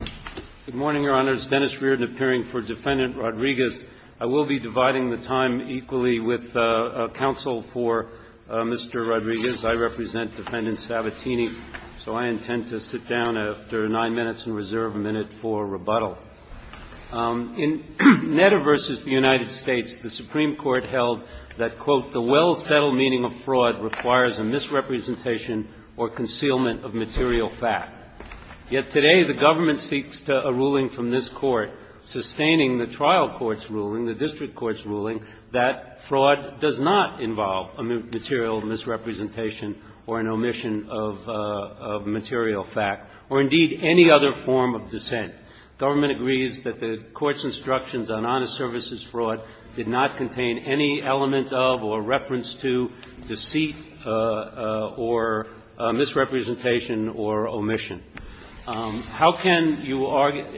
I will be dividing the time equally with counsel for Mr. Rodriguez. I represent Defendant Sabatini, so I intend to sit down after nine minutes and reserve a minute for rebuttal. In Netta v. The United States, the Supreme Court held that, quote, The well-settled meaning of fraud requires a misrepresentation or concealment of material fact. Yet today, the government seeks a ruling from this Court sustaining the trial court's ruling, the district court's ruling, that fraud does not involve a material misrepresentation or an omission of material fact or, indeed, any other form of dissent. Government agrees that the Court's instructions on honest services fraud did not contain any element of or reference to deceit or misrepresentation or omission of material fact or omission. How can you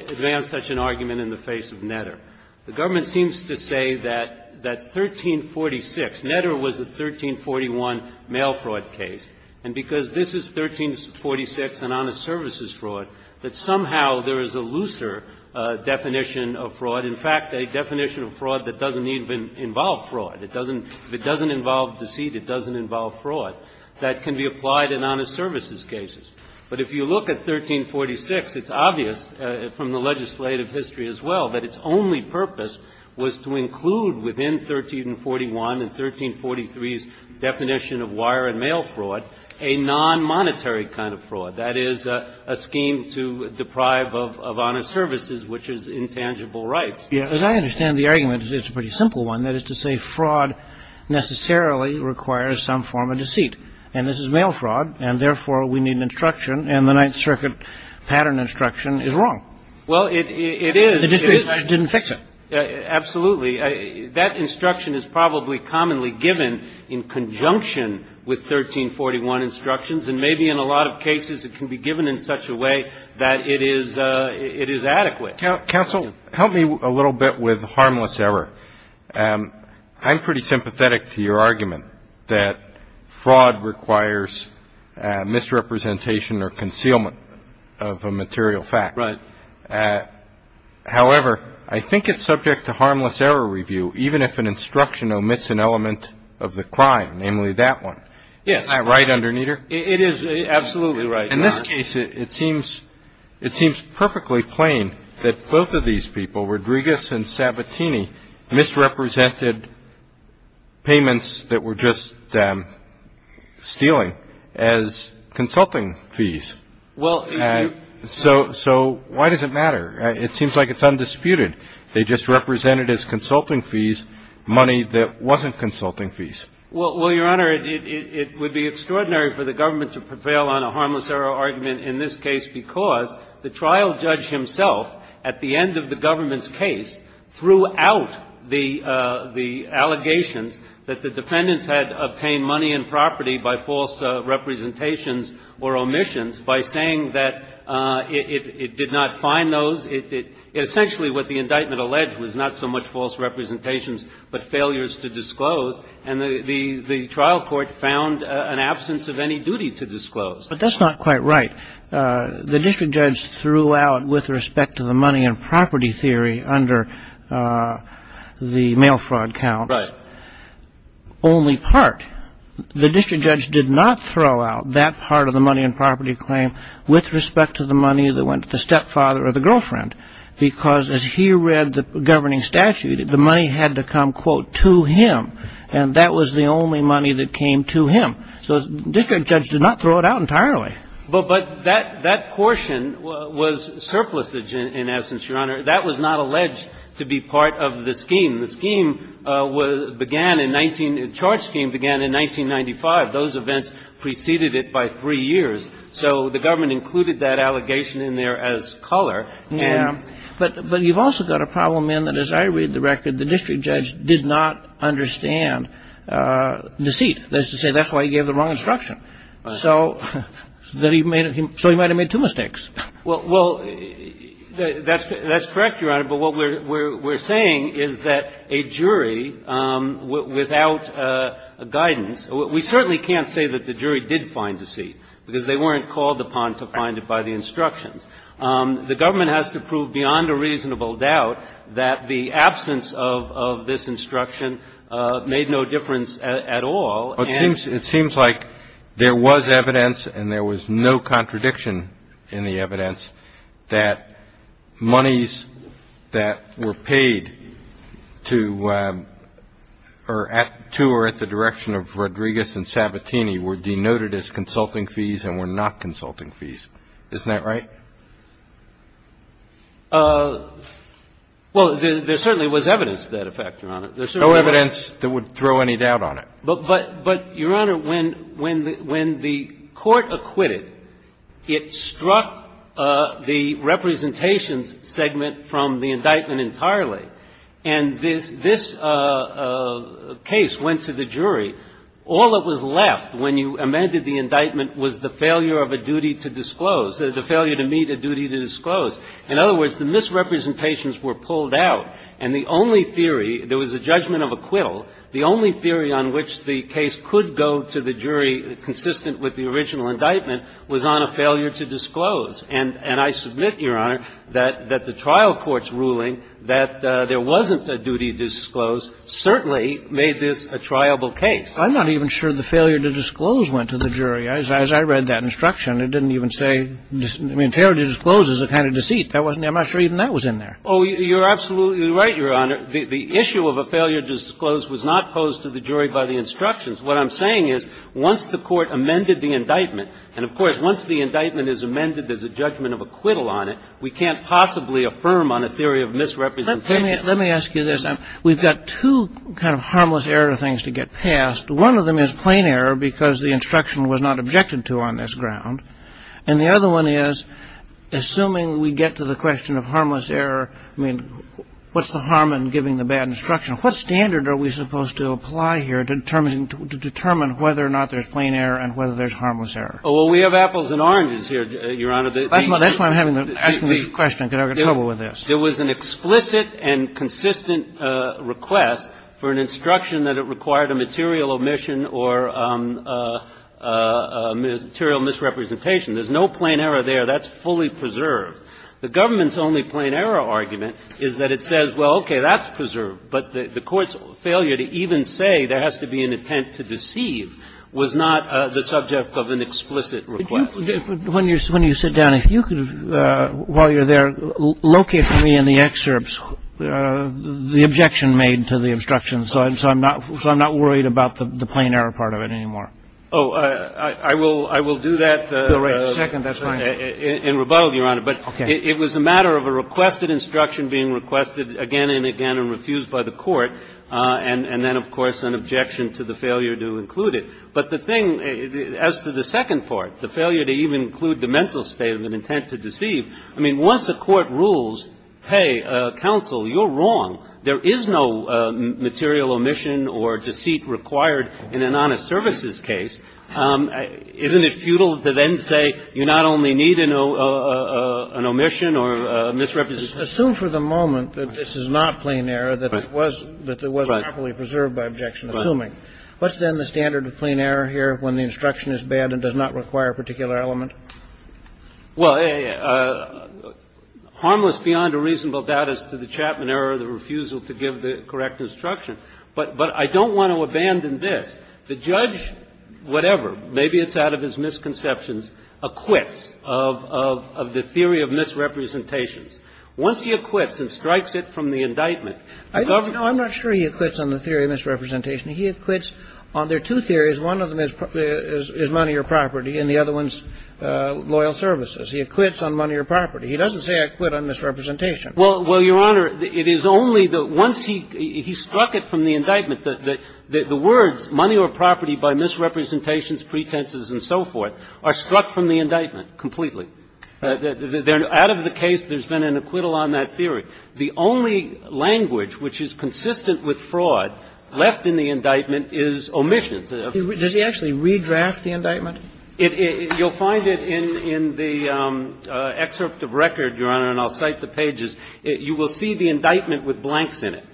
advance such an argument in the face of Netta? The government seems to say that 1346, Netta was a 1341 mail fraud case, and because this is 1346, an honest services fraud, that somehow there is a looser definition of fraud, in fact, a definition of fraud that doesn't even involve fraud. It doesn't – if it doesn't involve deceit, it doesn't involve fraud, that can be applied in honest services cases. But if you look at 1346, it's obvious from the legislative history as well that its only purpose was to include within 1341 and 1343's definition of wire and mail fraud a non-monetary kind of fraud, that is, a scheme to deprive of honest services, which is intangible rights. Yeah, but I understand the argument, it's a pretty simple one, that is to say fraud necessarily requires some form of deceit. And this is mail fraud, and therefore we need an instruction, and the Ninth Circuit pattern instruction is wrong. Well, it is. And the district judge didn't fix it. Absolutely. That instruction is probably commonly given in conjunction with 1341 instructions, and maybe in a lot of cases it can be given in such a way that it is adequate. Counsel, help me a little bit with harmless error. I'm pretty sympathetic to your argument that fraud requires misrepresentation or concealment of a material fact. Right. However, I think it's subject to harmless error review, even if an instruction omits an element of the crime, namely that one. Yes. Isn't that right, Underneather? It is absolutely right. In this case, it seems perfectly plain that both of these people, Rodriguez and Sabatini, misrepresented payments that were just stealing as consulting fees. So why does it matter? It seems like it's undisputed. They just represented as consulting fees money that wasn't consulting fees. Well, Your Honor, it would be extraordinary for the government to prevail on a harmless error argument in this case because the trial judge himself, at the end of the government's case, threw out the allegations that the defendants had obtained money and property by false representations or omissions by saying that it did not find those. Essentially what the indictment alleged was not so much false representations but failures to disclose, and the trial court found an absence of any duty to disclose. But that's not quite right. The district judge threw out, with respect to the money and property theory under the mail fraud count, only part. The district judge did not throw out that part of the money and property claim with respect to the money that went to the stepfather or the girlfriend because, as he read the governing statute, the money had to come, quote, to him, and that was the only money that came to him. So the district judge did not throw it out entirely. But that portion was surplusage, in essence, Your Honor. That was not alleged to be part of the scheme. The scheme began in 19 — the charge scheme began in 1995. Those events preceded it by three years. So the government included that allegation in there as color. Yeah. But you've also got a problem in that, as I read the record, the district judge did not understand deceit. That is to say, that's why he gave the wrong instruction. So that he made — so he might have made two mistakes. Well, that's correct, Your Honor. But what we're saying is that a jury without guidance — we certainly can't say that the jury did find deceit because they weren't called upon to find it by the instructions. The government has to prove beyond a reasonable doubt that the absence of this instruction made no difference at all. It seems like there was evidence and there was no contradiction in the evidence that monies that were paid to or at the direction of Rodriguez and Sabatini were denoted as consulting fees and were not consulting fees. Isn't that right? Well, there certainly was evidence to that effect, Your Honor. There's no evidence that would throw any doubt on it. But, Your Honor, when the court acquitted, it struck the representations segment from the indictment entirely. And this case went to the jury. All that was left when you amended the indictment was the failure of a duty to disclose, the failure to meet a duty to disclose. In other words, the misrepresentations were pulled out, and the only theory — there The only evidence to that effect, which the case could go to the jury consistent with the original indictment, was on a failure to disclose. And I submit, Your Honor, that the trial court's ruling that there wasn't a duty to disclose certainly made this a triable case. I'm not sure that's in there. I read that instruction. It didn't even say — I mean, failure to disclose is a kind of deceit. I'm not sure even that was in there. Oh, you're absolutely right, Your Honor. The issue of a failure to disclose was not posed to the jury by the instructions. What I'm saying is once the court amended the indictment — and, of course, once the indictment is amended, there's a judgment of acquittal on it — we can't possibly affirm on a theory of misrepresentation. Let me ask you this. We've got two kind of harmless error things to get past. One of them is plain error because the instruction was not objected to on this ground. And the other one is, assuming we get to the question of harmless error, I mean, what's the harm in giving the bad instruction? What standard are we supposed to apply here to determine whether or not there's plain error and whether there's harmless error? Oh, well, we have apples and oranges here, Your Honor. That's why I'm asking this question, because I've got trouble with this. There was an explicit and consistent request for an instruction that it required a material omission or material misrepresentation. There's no plain error there. That's fully preserved. The government's only plain error argument is that it says, well, okay, that's preserved. But the Court's failure to even say there has to be an intent to deceive was not the subject of an explicit request. Did you — when you sit down, if you could, while you're there, locate for me in the about the plain error part of it anymore. Oh, I will do that in rebuttal, Your Honor. Okay. But it was a matter of a requested instruction being requested again and again and refused by the Court, and then, of course, an objection to the failure to include it. But the thing — as to the second part, the failure to even include the mental state of an intent to deceive, I mean, once the Court rules, hey, counsel, you're wrong. There is no material omission or deceit required in an honest services case. Isn't it futile to then say you not only need an omission or a misrepresentation? Assume for the moment that this is not plain error, that it was properly preserved by objection, assuming. What's then the standard of plain error here when the instruction is bad and does not require a particular element? Well, harmless beyond a reasonable doubt is to the Chapman error of the refusal to give the correct instruction. But I don't want to abandon this. The judge, whatever, maybe it's out of his misconceptions, acquits of the theory of misrepresentations. Once he acquits and strikes it from the indictment, government — No, I'm not sure he acquits on the theory of misrepresentation. He acquits on their two theories. One of them is money or property and the other one's loyal services. He acquits on money or property. He doesn't say acquit on misrepresentation. Well, Your Honor, it is only the — once he struck it from the indictment, the words money or property by misrepresentations, pretenses and so forth are struck from the indictment completely. Out of the case, there's been an acquittal on that theory. The only language which is consistent with fraud left in the indictment is omissions. Does he actually redraft the indictment? You'll find it in the excerpt of record, Your Honor, and I'll cite the pages. You will see the indictment with blanks in it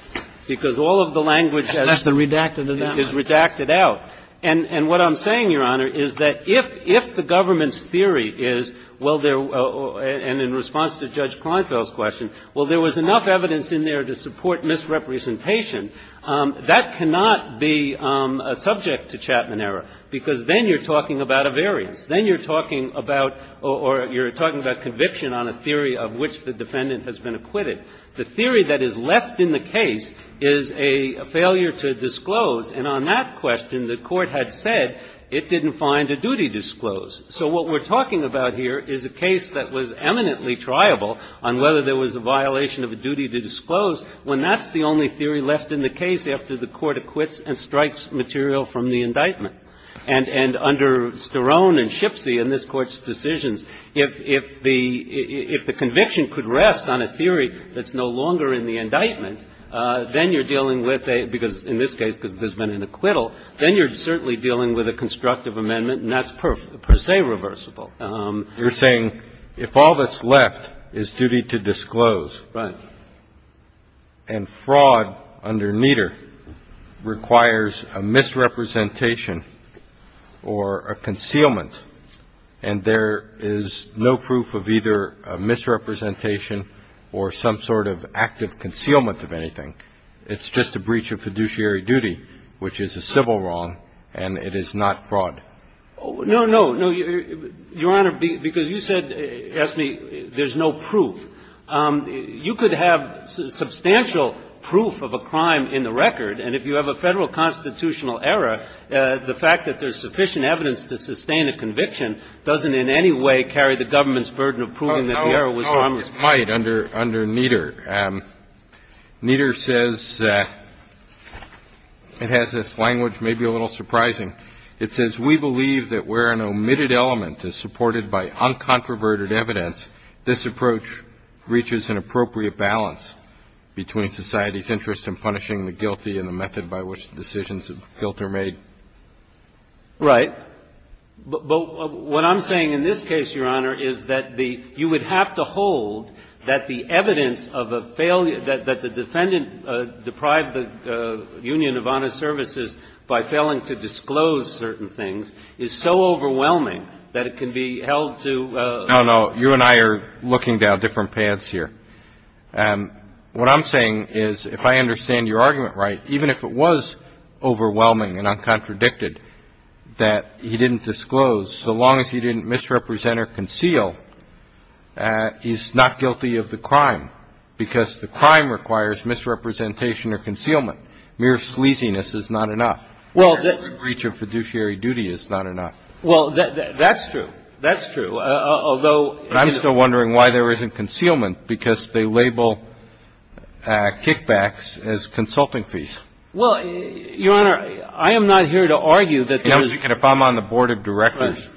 because all of the language has — That's the redacted amendment. Is redacted out. And what I'm saying, Your Honor, is that if the government's theory is, well, there — and in response to Judge Kleinfeld's question, well, there was enough evidence in there to support misrepresentation, that cannot be subject to Chapman error, because then you're talking about a variance. Then you're talking about — or you're talking about conviction on a theory of which the defendant has been acquitted. The theory that is left in the case is a failure to disclose, and on that question, the Court had said it didn't find a duty disclose. So what we're talking about here is a case that was eminently triable on whether there was a violation of a duty to disclose, when that's the only theory left in the case after the Court acquits and strikes material from the indictment. And under Sterone and Shipsy in this Court's decisions, if the conviction could rest on a theory that's no longer in the indictment, then you're dealing with a — because in this case, because there's been an acquittal, then you're certainly dealing with a constructive amendment, and that's per se reversible. You're saying if all that's left is duty to disclose. Right. And fraud under Nieder requires a misrepresentation or a concealment, and there is no proof of either a misrepresentation or some sort of active concealment of anything. It's just a breach of fiduciary duty, which is a civil wrong, and it is not fraud. No, no, no. Your Honor, because you said, asked me, there's no proof. You could have substantial proof of a crime in the record, and if you have a Federal constitutional error, the fact that there's sufficient evidence to sustain a conviction doesn't in any way carry the government's burden of proving that the error was harmless. No, it might under Nieder. Nieder says — it has this language, maybe a little surprising. It says, We believe that where an omitted element is supported by uncontroverted evidence, this approach reaches an appropriate balance between society's interest in punishing the guilty and the method by which the decisions of guilt are made. Right. But what I'm saying in this case, Your Honor, is that the — you would have to hold that the evidence of a failure — that the defendant deprived the Union of Honest Services by failing to disclose certain things is so overwhelming that it can be held to — No, no. You and I are looking down different paths here. What I'm saying is, if I understand your argument right, even if it was overwhelming and uncontradicted that he didn't disclose, so long as he didn't misrepresent or conceal, he's not guilty of the crime, because the crime requires misrepresentation or concealment. Mere sleaziness is not enough. Mere breach of fiduciary duty is not enough. Well, that's true. That's true. Although — But I'm still wondering why there isn't concealment, because they label kickbacks as consulting fees. Well, Your Honor, I am not here to argue that there is — You know, as you can — if I'm on the board of directors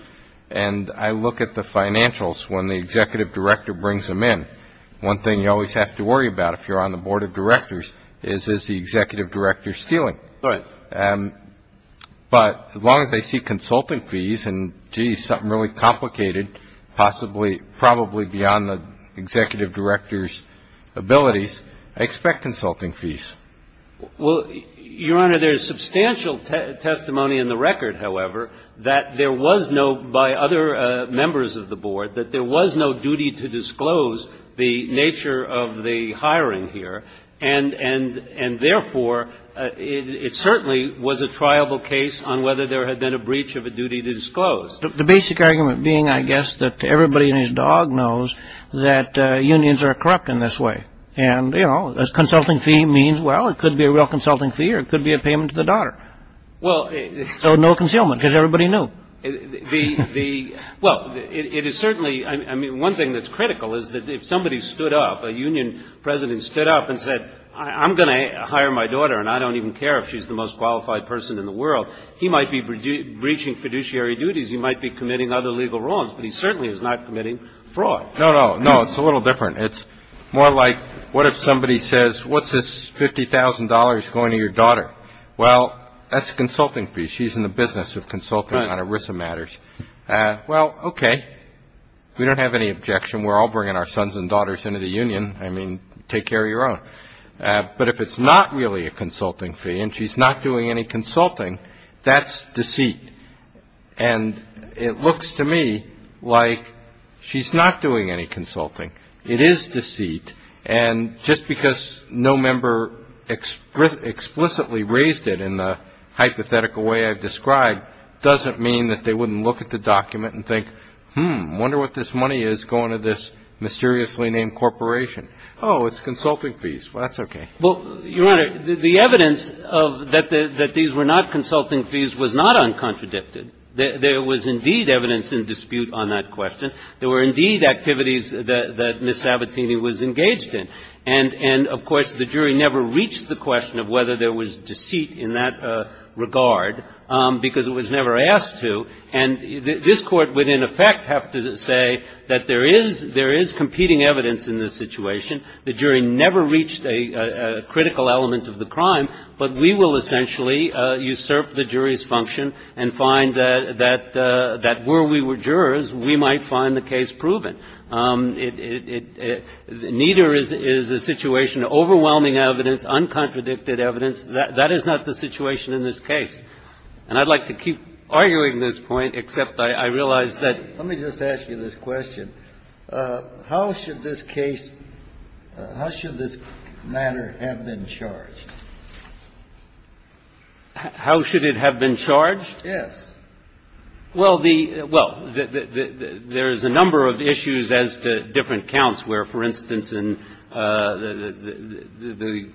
and I look at the financials when the executive director brings them in, one thing you always have to worry about if you're on the board of directors is, is the executive director stealing? Right. But as long as they see consulting fees and, gee, something really complicated, possibly — probably beyond the executive director's abilities, I expect consulting fees. Well, Your Honor, there is substantial testimony in the record, however, that there was no — by other members of the board, that there was no duty to disclose the nature of the hiring here. And, therefore, it certainly was a triable case on whether there had been a breach of a duty to disclose. The basic argument being, I guess, that everybody and his dog knows that unions are corrupt in this way. And, you know, a consulting fee means, well, it could be a real consulting fee or it could be a payment to the daughter. Well — So no concealment, because everybody knew. The — well, it is certainly — I mean, one thing that's critical is that if somebody stood up, a union president stood up and said, I'm going to hire my daughter and I don't even care if she's the most qualified person in the world, he might be breaching fiduciary duties. He might be committing other legal wrongs. But he certainly is not committing fraud. No, no. No, it's a little different. It's more like, what if somebody says, what's this $50,000 going to your daughter? Well, that's a consulting fee. She's in the business of consulting on ERISA matters. Well, okay. We don't have any objection. We're all bringing our sons and daughters into the union. I mean, take care of your own. But if it's not really a consulting fee and she's not doing any consulting, that's deceit. And it looks to me like she's not doing any consulting. It is deceit. And just because no member explicitly raised it in the hypothetical way I've described doesn't mean that they wouldn't look at the document and think, hmm, wonder what this mysteriously named corporation. Oh, it's consulting fees. Well, that's okay. Well, Your Honor, the evidence that these were not consulting fees was not uncontradicted. There was indeed evidence in dispute on that question. There were indeed activities that Ms. Sabatini was engaged in. And, of course, the jury never reached the question of whether there was deceit in that regard because it was never asked to. And this Court would, in effect, have to say that there is competing evidence in this situation. The jury never reached a critical element of the crime, but we will essentially usurp the jury's function and find that were we were jurors, we might find the case proven. Neither is the situation overwhelming evidence, uncontradicted evidence. That is not the situation in this case. And I'd like to keep arguing this point, except I realize that ---- Let me just ask you this question. How should this case ---- how should this matter have been charged? How should it have been charged? Yes. Well, the ---- well, there is a number of issues as to different counts, where, for instance, the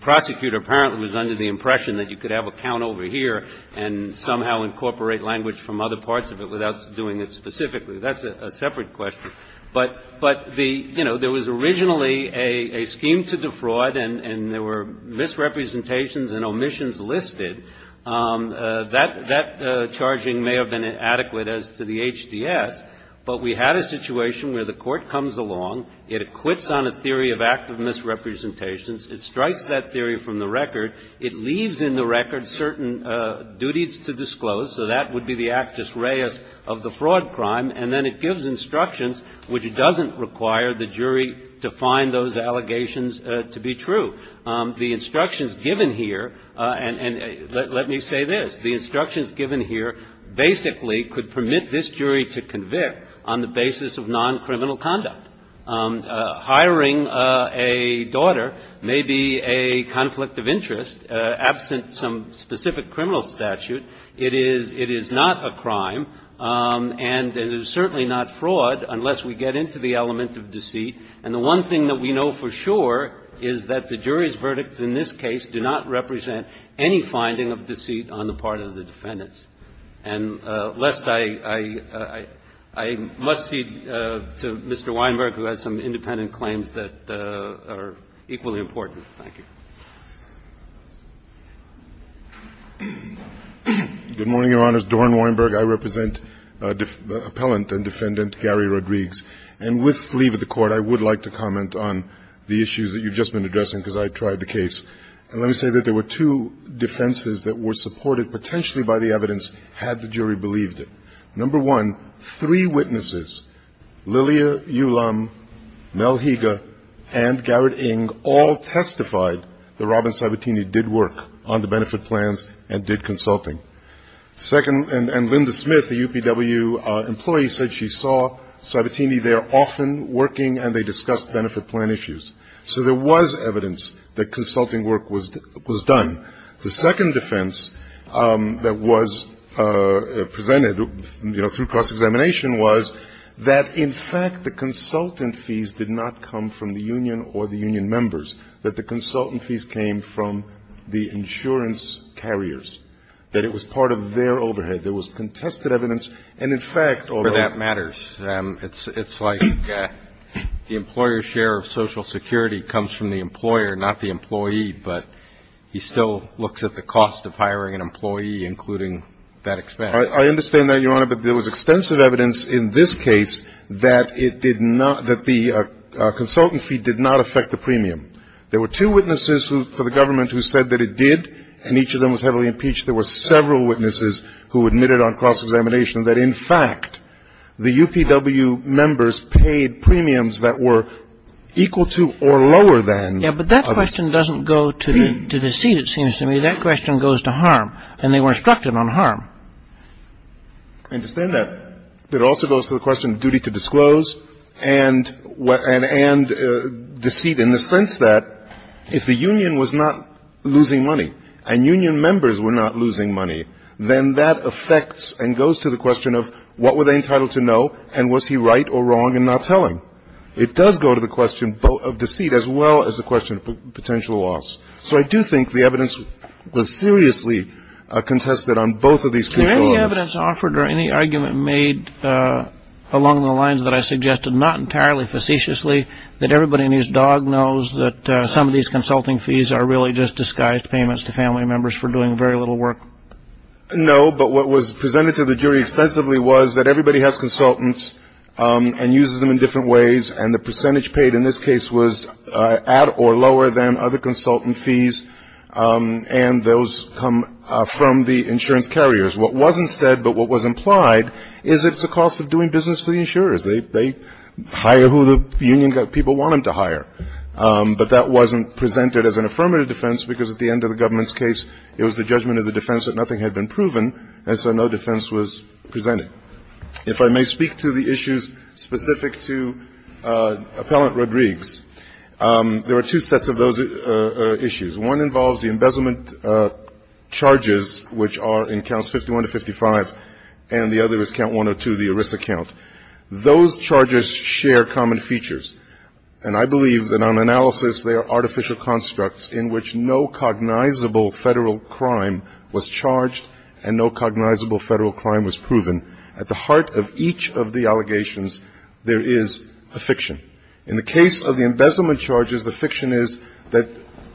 prosecutor apparently was under the impression that you could have a count over here and somehow incorporate language from other parts of it without doing it specifically. That's a separate question. But the ---- you know, there was originally a scheme to defraud, and there were misrepresentations and omissions listed. That charging may have been adequate as to the HDS, but we had a situation where the Court comes along, it acquits on a theory of active misrepresentations, it strikes that theory from the record, it leaves in the record certain duties to disclose, so that would be the actus reus of the fraud crime, and then it gives instructions which doesn't require the jury to find those allegations to be true. The instructions given here ---- and let me say this. The instructions given here basically could permit this jury to convict on the basis of non-criminal conduct. Hiring a daughter may be a conflict of interest. Absent some specific criminal statute, it is not a crime, and it is certainly not fraud unless we get into the element of deceit. And the one thing that we know for sure is that the jury's verdicts in this case do not represent any finding of deceit on the part of the defendants. And lest I ---- I must cede to Mr. Weinberg, who has some independent claims that are equally important. Thank you. Mr. Weinberg. Good morning, Your Honors. Doran Weinberg. I represent Appellant and Defendant Gary Rodrigues. And with leave of the Court, I would like to comment on the issues that you've just been addressing, because I tried the case. And let me say that there were two defenses that were supported potentially by the evidence, had the jury believed it. Number one, three witnesses, Lilia Ulam, Mel Higa, and Garrett Ng, all testified that Robin Sabatini did work on the benefit plans and did consulting. Second, and Linda Smith, a UPW employee, said she saw Sabatini there often working and they discussed benefit plan issues. So there was evidence that consulting work was done. The second defense that was presented, you know, through cross-examination was that, in fact, the consultant fees did not come from the union or the union members, that the consultant fees came from the insurance carriers, that it was part of their overhead. There was contested evidence. And, in fact, although ---- Well, that matters. It's like the employer's share of Social Security comes from the employer, not the employee, but he still looks at the cost of hiring an employee, including that expense. I understand that, Your Honor, but there was extensive evidence in this case that it did not ---- that the consultant fee did not affect the premium. There were two witnesses for the government who said that it did, and each of them was heavily impeached. There were several witnesses who admitted on cross-examination that, in fact, the UPW members paid premiums that were equal to or lower than ---- Yes, but that question doesn't go to the deceit, it seems to me. That question goes to harm, and they were instructed on harm. I understand that. But it also goes to the question of duty to disclose and deceit in the sense that if the union was not losing money and union members were not losing money, then that affects and goes to the question of what were they entitled to know and was he right or wrong in not telling. It does go to the question of deceit as well as the question of potential loss. So I do think the evidence was seriously contested on both of these controls. Is there any evidence offered or any argument made along the lines that I suggested, not entirely facetiously, that everybody in his dog knows that some of these consulting fees are really just disguised payments to family members for doing very little work? No, but what was presented to the jury extensively was that everybody has consultants and uses them in different ways, and the percentage paid in this case was at or lower than other consultant fees, and those come from the insurance carriers. What wasn't said but what was implied is that it's the cost of doing business for the insurers. They hire who the union people want them to hire. But that wasn't presented as an affirmative defense because at the end of the government's case, it was the judgment of the defense that nothing had been proven, and so no defense was presented. If I may speak to the issues specific to Appellant Rodrigues, there are two sets of those issues. One involves the embezzlement charges, which are in counts 51 to 55, and the other is count 102, the ERISA count. Those charges share common features, and I believe that on analysis, they are artificial constructs in which no cognizable federal crime was charged and no cognizable federal crime was proven. At the heart of each of the allegations, there is a fiction. In the case of the embezzlement charges, the fiction is that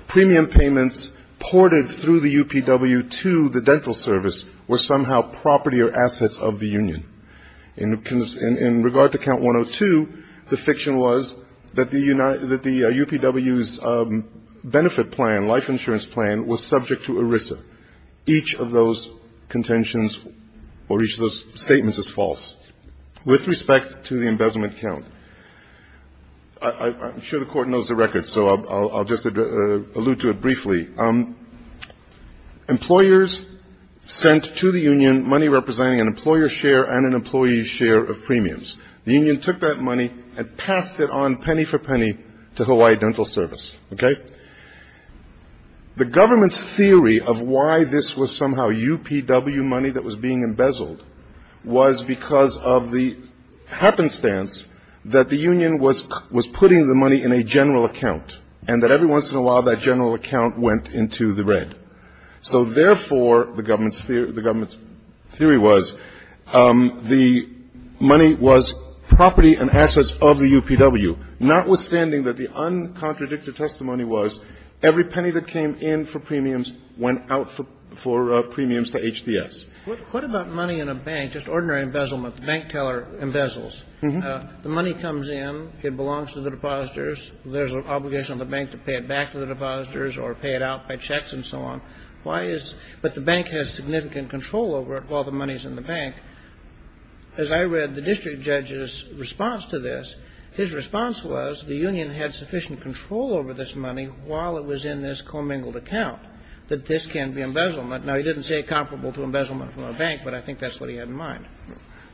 premium payments ported through the UPW to the dental service were somehow property or assets of the union. In regard to count 102, the fiction was that the UPW's benefit plan, life insurance plan, was subject to ERISA. Each of those contentions or each of those statements is false. With respect to the embezzlement count, I'm sure the Court knows the record, employers sent to the union money representing an employer's share and an employee's share of premiums. The union took that money and passed it on penny for penny to Hawaii Dental Service, okay? The government's theory of why this was somehow UPW money that was being embezzled was because of the happenstance that the union was putting the money in a general account and that every once in a while that general account went into the red. So, therefore, the government's theory was the money was property and assets of the UPW, notwithstanding that the uncontradicted testimony was every penny that came in for premiums went out for premiums to HDS. What about money in a bank, just ordinary embezzlement, bank teller embezzles? Mm-hmm. The money comes in, it belongs to the depositors. There's an obligation on the bank to pay it back to the depositors or pay it out by checks and so on. Why is – but the bank has significant control over all the monies in the bank. As I read the district judge's response to this, his response was the union had sufficient control over this money while it was in this commingled account, that this can be embezzlement. Now, he didn't say comparable to embezzlement from a bank, but I think that's what he had in mind.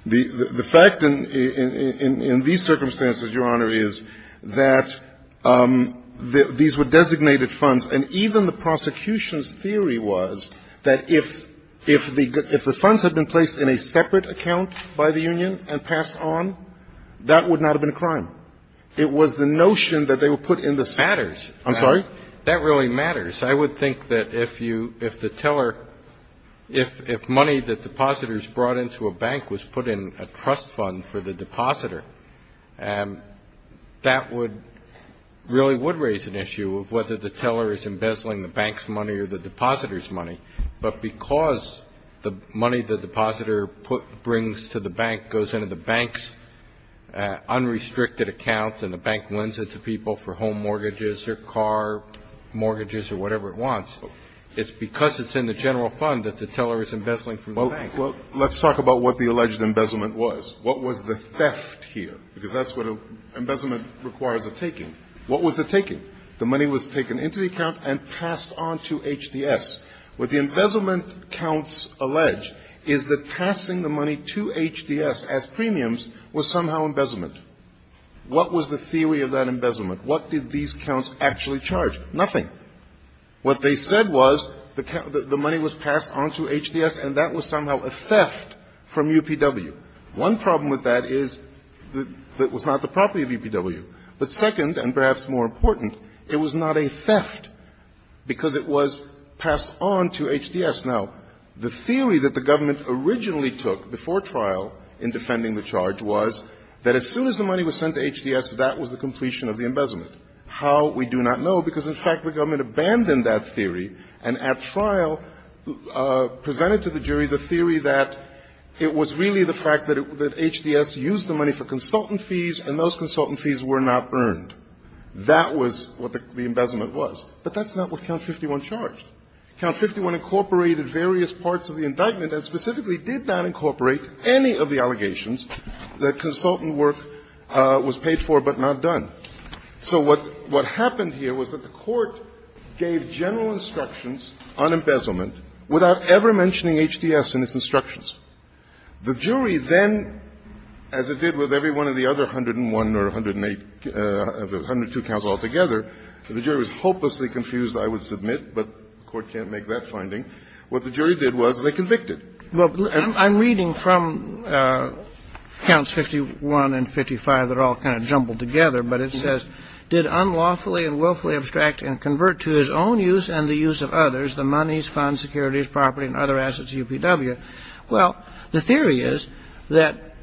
The fact in these circumstances, Your Honor, is that these were designated funds, and even the prosecution's theory was that if the funds had been placed in a separate account by the union and passed on, that would not have been a crime. It was the notion that they were put in the separate account. It matters. I'm sorry? That really matters. I would think that if you – if the teller – if money that depositors brought into a bank was put in a trust fund for the depositor, that would – really would raise an issue of whether the teller is embezzling the bank's money or the depositor's money. But because the money the depositor brings to the bank goes into the bank's unrestricted account and the bank lends it to people for home mortgages or car mortgages or whatever it wants, it's because it's in the general fund that the teller is embezzling from the bank. Well, let's talk about what the alleged embezzlement was. What was the theft here? Because that's what embezzlement requires a taking. What was the taking? The money was taken into the account and passed on to HDS. What the embezzlement counts allege is that passing the money to HDS as premiums was somehow embezzlement. What was the theory of that embezzlement? What did these counts actually charge? Nothing. What they said was the money was passed on to HDS, and that was somehow a theft from UPW. One problem with that is that it was not the property of UPW. But second, and perhaps more important, it was not a theft because it was passed on to HDS. Now, the theory that the government originally took before trial in defending the charge was that as soon as the money was sent to HDS, that was the completion of the embezzlement. How? We do not know because, in fact, the government abandoned that theory and at trial presented to the jury the theory that it was really the fact that HDS used the money for consultant fees, and those consultant fees were not earned. That was what the embezzlement was. But that's not what Count 51 charged. Count 51 incorporated various parts of the indictment and specifically did not incorporate any of the allegations that consultant work was paid for but not done. So what happened here was that the Court gave general instructions on embezzlement without ever mentioning HDS in its instructions. The jury then, as it did with every one of the other 101 or 108, 102 counts altogether, the jury was hopelessly confused, I would submit, but the Court can't make that finding. What the jury did was they convicted. Well, I'm reading from Counts 51 and 55 that are all kind of jumbled together, but it says, Did unlawfully and willfully abstract and convert to his own use and the use of others the monies, funds, securities, property, and other assets of UPW. Well, the theory is that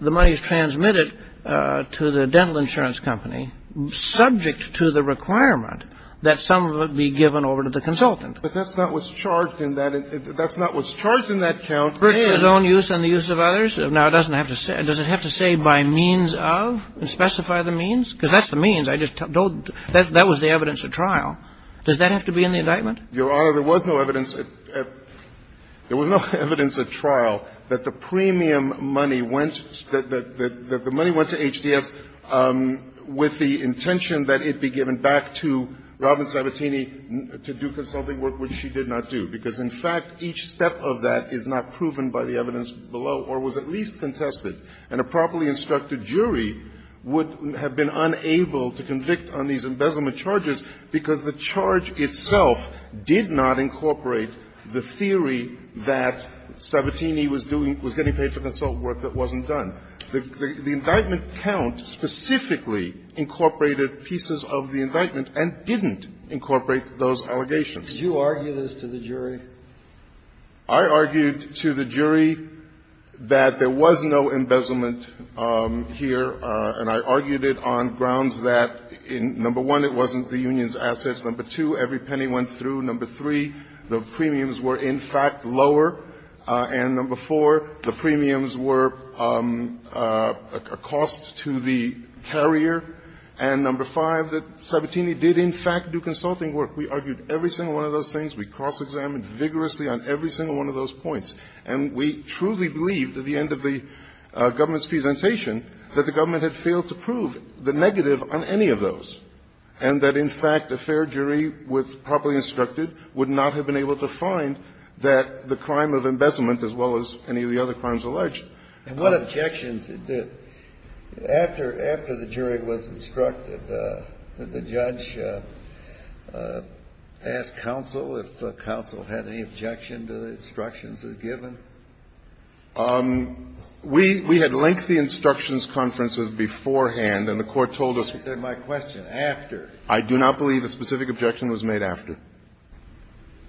the money is transmitted to the dental insurance company subject to the requirement that some of it be given over to the consultant. But that's not what's charged in that. That's not what's charged in that count. His own use and the use of others? Now, does it have to say by means of and specify the means? Because that's the means. I just don't. That was the evidence at trial. Does that have to be in the indictment? Your Honor, there was no evidence. There was no evidence at trial that the premium money went, that the money went to HDS with the intention that it be given back to Robin Sabatini to do consulting work, which she did not do. Because, in fact, each step of that is not proven by the evidence below or was at least contested. And a properly instructed jury would have been unable to convict on these embezzlement charges because the charge itself did not incorporate the theory that Sabatini was doing, was getting paid for the assault work that wasn't done. The indictment count specifically incorporated pieces of the indictment and didn't incorporate those allegations. Did you argue this to the jury? I argued to the jury that there was no embezzlement here. And I argued it on grounds that, number one, it wasn't the union's assets. Number two, every penny went through. Number three, the premiums were, in fact, lower. And number four, the premiums were a cost to the carrier. And number five, that Sabatini did, in fact, do consulting work. We argued every single one of those things. We cross-examined vigorously on every single one of those points. And we truly believed at the end of the government's presentation that the government had failed to prove the negative on any of those and that, in fact, a fair jury with as well as any of the other crimes alleged. And what objections did the – after the jury was instructed, did the judge ask counsel if counsel had any objection to the instructions as given? We had lengthy instructions conferences beforehand, and the Court told us – That's not my question. After. I do not believe a specific objection was made after.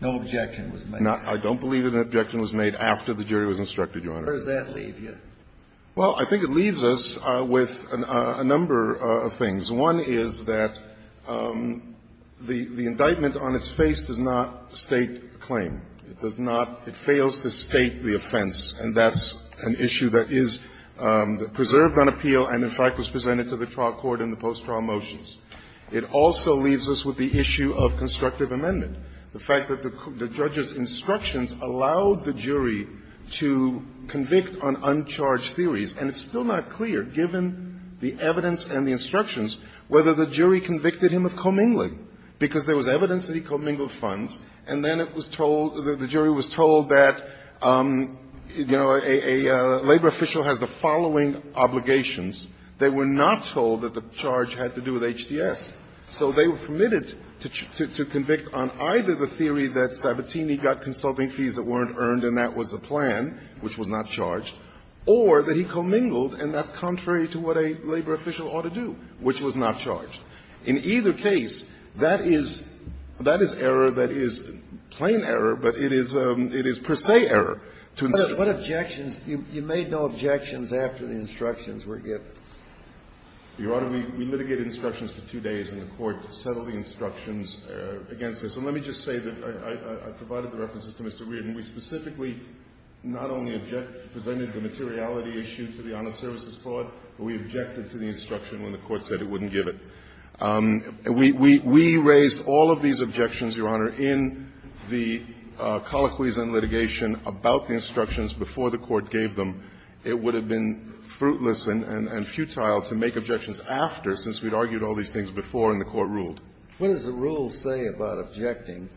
No objection was made. I don't believe an objection was made after the jury was instructed, Your Honor. Where does that leave you? Well, I think it leaves us with a number of things. One is that the indictment on its face does not state a claim. It does not – it fails to state the offense. And that's an issue that is preserved on appeal and, in fact, was presented to the trial court in the post-trial motions. It also leaves us with the issue of constructive amendment. The fact that the judge's instructions allowed the jury to convict on uncharged theories, and it's still not clear, given the evidence and the instructions, whether the jury convicted him of commingling, because there was evidence that he commingled funds, and then it was told – the jury was told that, you know, a labor official has the following obligations. They were not told that the charge had to do with HDS. So they were permitted to convict on either the theory that Sabatini got consulting fees that weren't earned and that was the plan, which was not charged, or that he commingled and that's contrary to what a labor official ought to do, which was not charged. In either case, that is – that is error that is plain error, but it is per se error to instruct. But what objections – you made no objections after the instructions were given? Your Honor, we litigated instructions for two days, and the Court settled the instructions against this. And let me just say that I provided the references to Mr. Weirton. We specifically not only object – presented the materiality issue to the Honest Services Court, but we objected to the instruction when the Court said it wouldn't give it. We raised all of these objections, Your Honor, in the colloquies and litigation about the instructions before the Court gave them. It would have been fruitless and – and futile to make objections after since we'd argued all these things before and the Court ruled. What does the rule say about objecting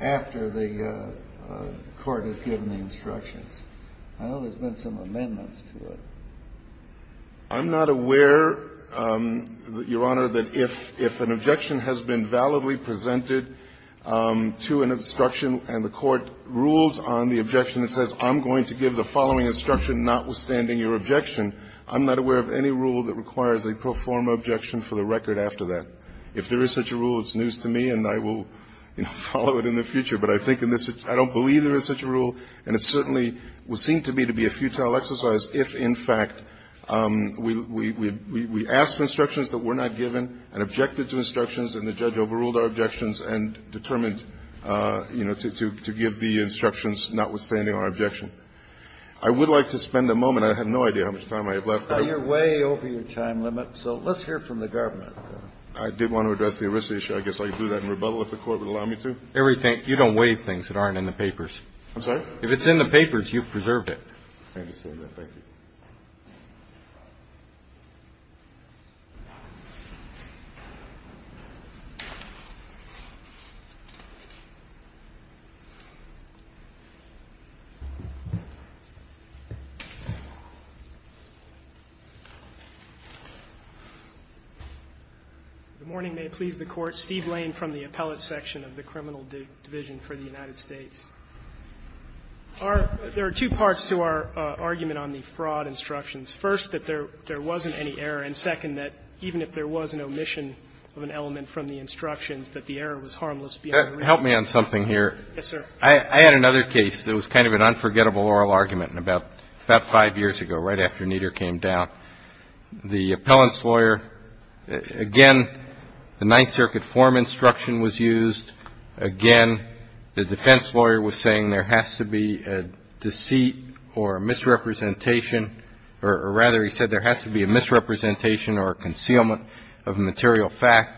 after the Court has given the instructions? I know there's been some amendments to it. I'm not aware, Your Honor, that if – if an objection has been validly presented to an instruction and the Court rules on the objection and says, I'm going to give the following instruction notwithstanding your objection, I'm not aware of any rule that requires a pro forma objection for the record after that. If there is such a rule, it's news to me and I will, you know, follow it in the future. But I think in this – I don't believe there is such a rule, and it certainly would seem to me to be a futile exercise if, in fact, we – we – we asked for instructions that were not given and objected to instructions and the judge overruled our objections and determined, you know, to – to give the instructions notwithstanding our objection. I would like to spend a moment. I have no idea how much time I have left. You're way over your time limit, so let's hear from the government. I did want to address the ERISA issue. I guess I could do that in rebuttal if the Court would allow me to. Everything – you don't waive things that aren't in the papers. I'm sorry? If it's in the papers, you've preserved it. I understand that. Thank you. The morning may please the Court. Steve Lane from the Appellate Section of the Criminal Division for the United States. Our – there are two parts to our argument on the fraud instructions. First, that there – there wasn't any error. And second, that even if there was an omission of an element from the instructions, that the error was harmless beyond reason. Help me on something here. Yes, sir. I had another case that was kind of an unforgettable oral argument about – about five years ago, right after Nieder came down. The appellant's lawyer – again, the Ninth Circuit form instruction was used. Again, the defense lawyer was saying there has to be a deceit or a misrepresentation – or rather, he said there has to be a misrepresentation or a concealment of a material fact.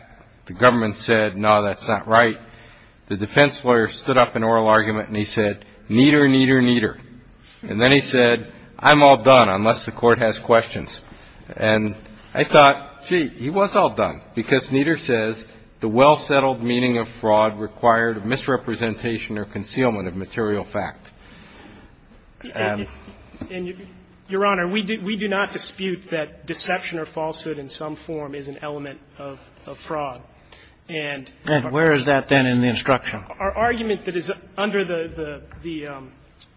The government said, no, that's not right. The defense lawyer stood up in oral argument and he said, Nieder, Nieder, Nieder. And then he said, I'm all done, unless the Court has questions. And I thought, gee, he was all done, because Nieder says the well-settled meaning of fraud required misrepresentation or concealment of material fact. Your Honor, we do not dispute that deception or falsehood in some form is an element of fraud. And our – And where is that, then, in the instruction? Our argument that is under the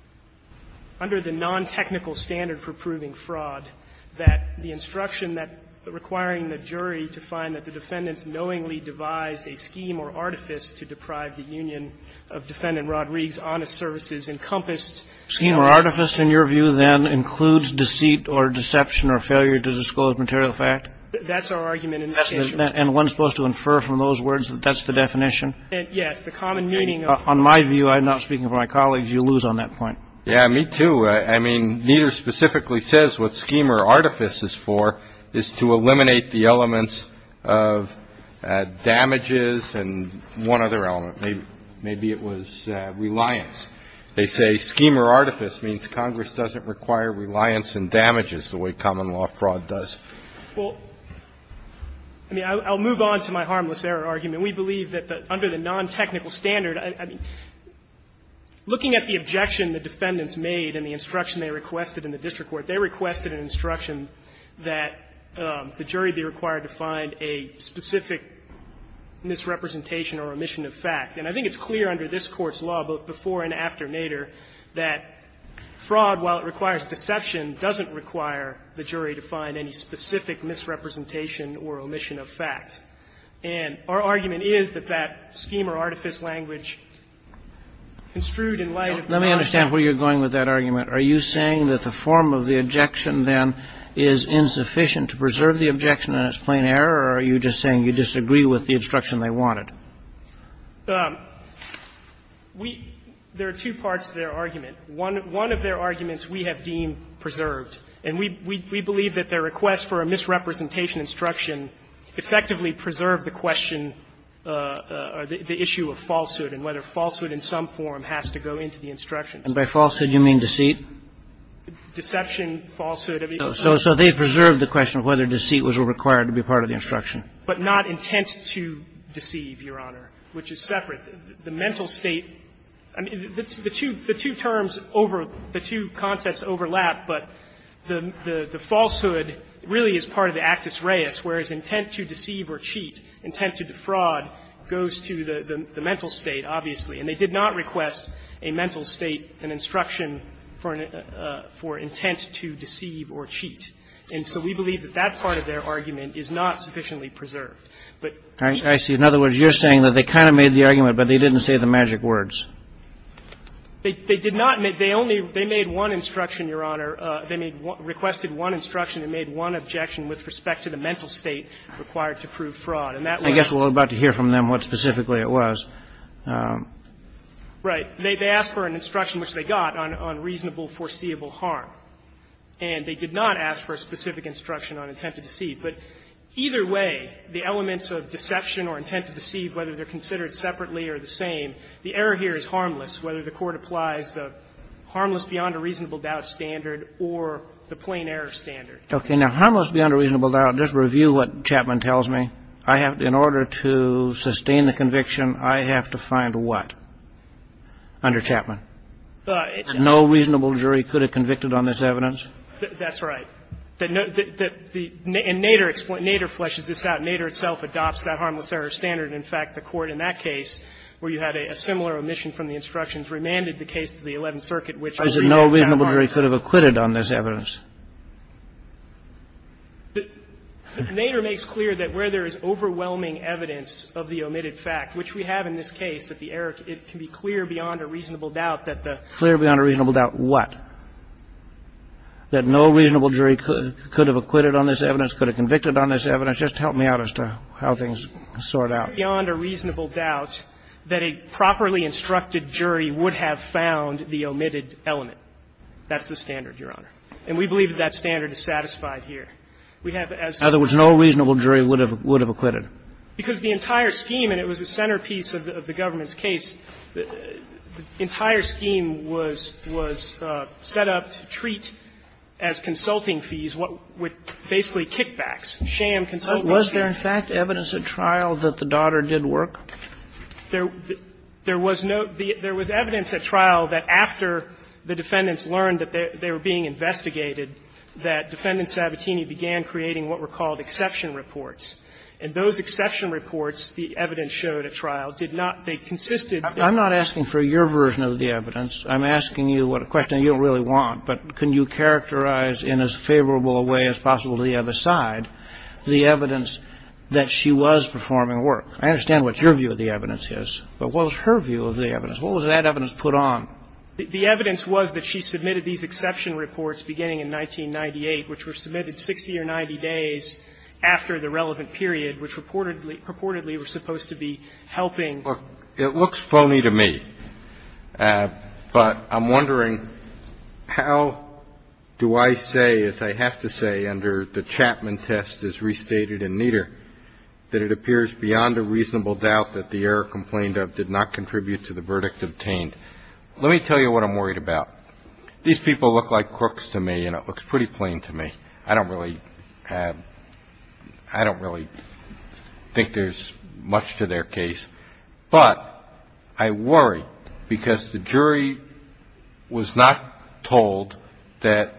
– under the non-technical standard for proving fraud, that the instruction that requiring the jury to find that the defendant's knowingly devised a scheme or artifice to deprive the union of Defendant Rodrigue's honest services encompassed – Scheme or artifice, in your view, then, includes deceit or deception or failure to disclose material fact? That's our argument in the statute. And one's supposed to infer from those words that that's the definition? Yes. The common meaning of – On my view, I'm not speaking for my colleagues. You lose on that point. Yeah, me too. I mean, Nieder specifically says what scheme or artifice is for is to eliminate the elements of damages and one other element. Maybe it was reliance. They say scheme or artifice means Congress doesn't require reliance in damages the way common law fraud does. Well, I mean, I'll move on to my harmless error argument. We believe that under the non-technical standard, I mean, looking at the objection the defendants made and the instruction they requested in the district court, they requested an instruction that the jury be required to find a specific misrepresentation or omission of fact. And I think it's clear under this Court's law, both before and after Nieder, that misrepresentation or omission of fact. And our argument is that that scheme or artifice language construed in light of the argument. Let me understand where you're going with that argument. Are you saying that the form of the objection, then, is insufficient to preserve the objection and it's plain error, or are you just saying you disagree with the instruction they wanted? We – there are two parts to their argument. One of their arguments we have deemed preserved. And we believe that their request for a misrepresentation instruction effectively preserved the question or the issue of falsehood and whether falsehood in some form has to go into the instruction. And by falsehood, you mean deceit? Deception, falsehood. So they preserved the question of whether deceit was required to be part of the instruction. But not intent to deceive, Your Honor, which is separate. The mental state – I mean, the two terms over – the two concepts overlap. But the falsehood really is part of the actus reus, whereas intent to deceive or cheat, intent to defraud goes to the mental state, obviously. And they did not request a mental state, an instruction for intent to deceive or cheat. And so we believe that that part of their argument is not sufficiently preserved. But – I see. In other words, you're saying that they kind of made the argument, but they didn't say the magic words. They did not. They only – they made one instruction, Your Honor. They requested one instruction. They made one objection with respect to the mental state required to prove fraud. And that was – I guess we're about to hear from them what specifically it was. Right. They asked for an instruction, which they got, on reasonable foreseeable harm. And they did not ask for a specific instruction on intent to deceive. But either way, the elements of deception or intent to deceive, whether they're harmless, whether the Court applies the harmless beyond a reasonable doubt standard or the plain error standard. Okay. Now, harmless beyond a reasonable doubt, just review what Chapman tells me. I have – in order to sustain the conviction, I have to find what under Chapman? No reasonable jury could have convicted on this evidence. That's right. And Nader – Nader fleshes this out. Nader itself adopts that harmless error standard. In fact, the Court in that case, where you had a similar omission from the instructions, remanded the case to the Eleventh Circuit, which – I said no reasonable jury could have acquitted on this evidence. Nader makes clear that where there is overwhelming evidence of the omitted fact, which we have in this case, that the error – it can be clear beyond a reasonable doubt that the – Clear beyond a reasonable doubt what? That no reasonable jury could have acquitted on this evidence, could have convicted on this evidence. Just help me out as to how things sort out. Clear beyond a reasonable doubt that a properly instructed jury would have found the omitted element. That's the standard, Your Honor. And we believe that that standard is satisfied here. We have, as you say – In other words, no reasonable jury would have acquitted. Because the entire scheme, and it was the centerpiece of the government's case, the entire scheme was set up to treat as consulting fees what would basically kickbacks. So was there, in fact, evidence at trial that the daughter did work? There was no – there was evidence at trial that after the defendants learned that they were being investigated, that Defendant Sabatini began creating what were called exception reports. And those exception reports, the evidence showed at trial, did not – they consisted of – I'm not asking for your version of the evidence. I'm asking you what a question you don't really want. But can you characterize in as favorable a way as possible to the other side? The evidence that she was performing work. I understand what your view of the evidence is. But what was her view of the evidence? What was that evidence put on? The evidence was that she submitted these exception reports beginning in 1998, which were submitted 60 or 90 days after the relevant period, which purportedly were supposed to be helping – It looks phony to me, but I'm wondering, how do I say, as I have to say under the condition that the error of the Chapman test is restated in Nieder, that it appears beyond a reasonable doubt that the error complained of did not contribute to the verdict obtained. Let me tell you what I'm worried about. These people look like crooks to me, and it looks pretty plain to me. I don't really – I don't really think there's much to their case. But I worry because the jury was not told that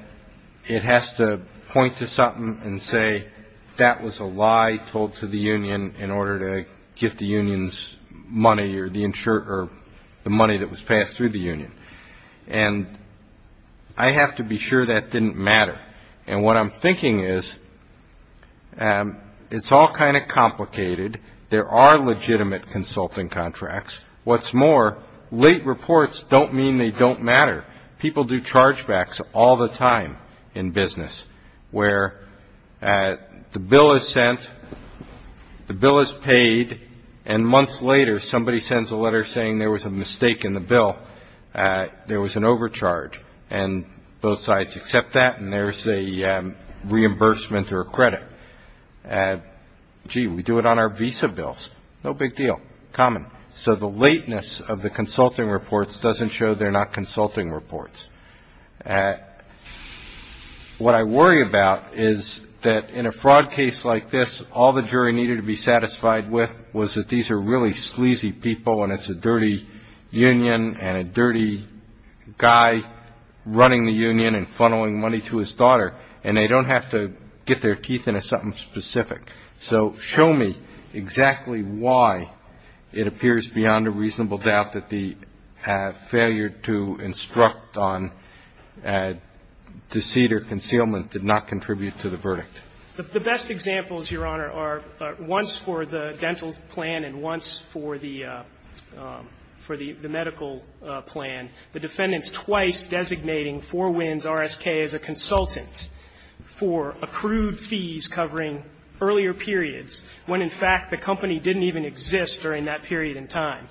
it has to point to something and say, that was a lie told to the union in order to get the union's money or the money that was passed through the union. And I have to be sure that didn't matter. And what I'm thinking is, it's all kind of complicated. There are legitimate consulting contracts. What's more, late reports don't mean they don't matter. People do chargebacks all the time in business where the bill is sent, the bill is paid, and months later somebody sends a letter saying there was a mistake in the bill, there was an overcharge, and both sides accept that, and there's a reimbursement or a credit. Gee, we do it on our visa bills. No big deal. Common. So the lateness of the consulting reports doesn't show they're not consulting reports. What I worry about is that in a fraud case like this, all the jury needed to be satisfied with was that these are really sleazy people and it's a dirty union and a dirty guy running the union and funneling money to his daughter, and they don't have to get their teeth into something specific. So show me exactly why it appears beyond a reasonable doubt that the failure to instruct on deceit or concealment did not contribute to the verdict. The best examples, Your Honor, are once for the dental plan and once for the medical plan, the defendants twice designating Four Winds RSK as a consultant for accrued fees covering earlier periods when, in fact, the company didn't even exist during that period in time.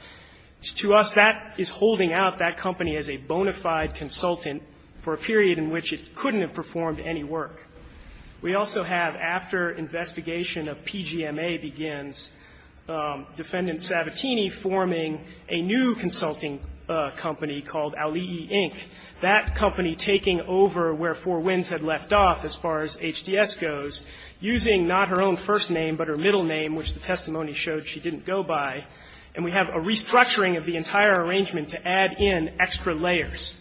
To us, that is holding out that company as a bona fide consultant for a period in which it couldn't have performed any work. We also have after investigation of PGMA begins, Defendant Sabatini forming a new consulting company called Auli'i, Inc., that company taking over where Four Winds had left off as far as HDS goes, using not her own first name but her middle name, which the testimony showed she didn't go by. And we have a restructuring of the entire arrangement to add in extra layers.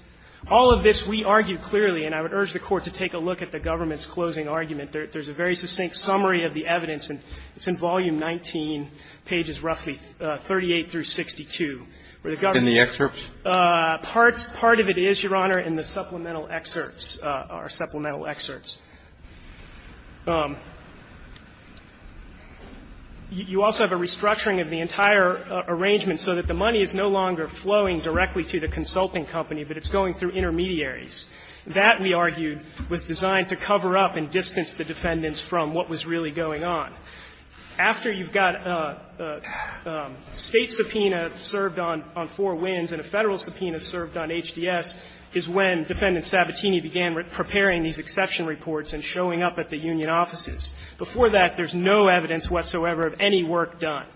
All of this we argue clearly, and I would urge the Court to take a look at the government's closing argument. There's a very succinct summary of the evidence, and it's in Volume 19, pages roughly 38 through 62, where the government's ---- In the excerpts? Parts of it is, Your Honor, in the supplemental excerpts, our supplemental excerpts. You also have a restructuring of the entire arrangement so that the money is no longer flowing directly to the consulting company, but it's going through intermediaries. That, we argued, was designed to cover up and distance the defendants from what was really going on. After you've got a State subpoena served on Four Winds and a Federal subpoena served on HDS is when Defendant Sabatini began preparing these exception reports and showing up at the union offices. Before that, there's no evidence whatsoever of any work done.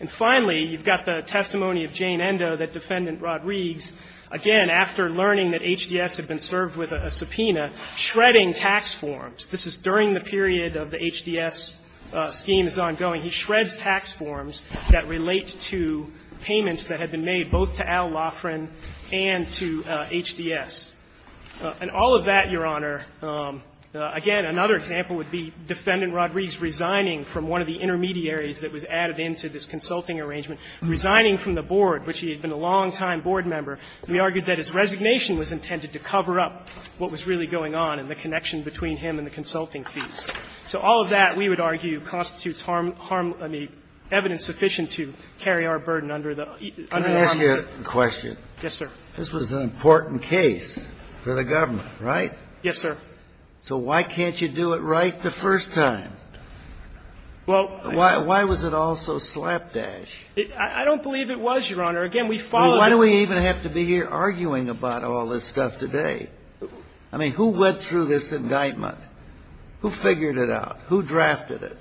And finally, you've got the testimony of Jane Endo that Defendant Rodrigues, again, after learning that HDS had been served with a subpoena, shredding tax forms. This is during the period of the HDS scheme is ongoing. He shreds tax forms that relate to payments that had been made, both to Al Laughrin and to HDS. And all of that, Your Honor, again, another example would be Defendant Rodrigues resigning from one of the intermediaries that was added into this consulting arrangement, resigning from the board, which he had been a longtime board member. We argued that his resignation was intended to cover up what was really going on and the connection between him and the consulting fees. So all of that, we would argue, constitutes harm – I mean, evidence sufficient to carry our burden under the arms of the State. Kennedy, this was an important case for the government, right? Yes, sir. So why can't you do it right the first time? Well, I don't believe it was, Your Honor. Again, we followed the rules. Well, why do we even have to be here arguing about all this stuff today? I mean, who went through this indictment? Who figured it out? Who drafted it?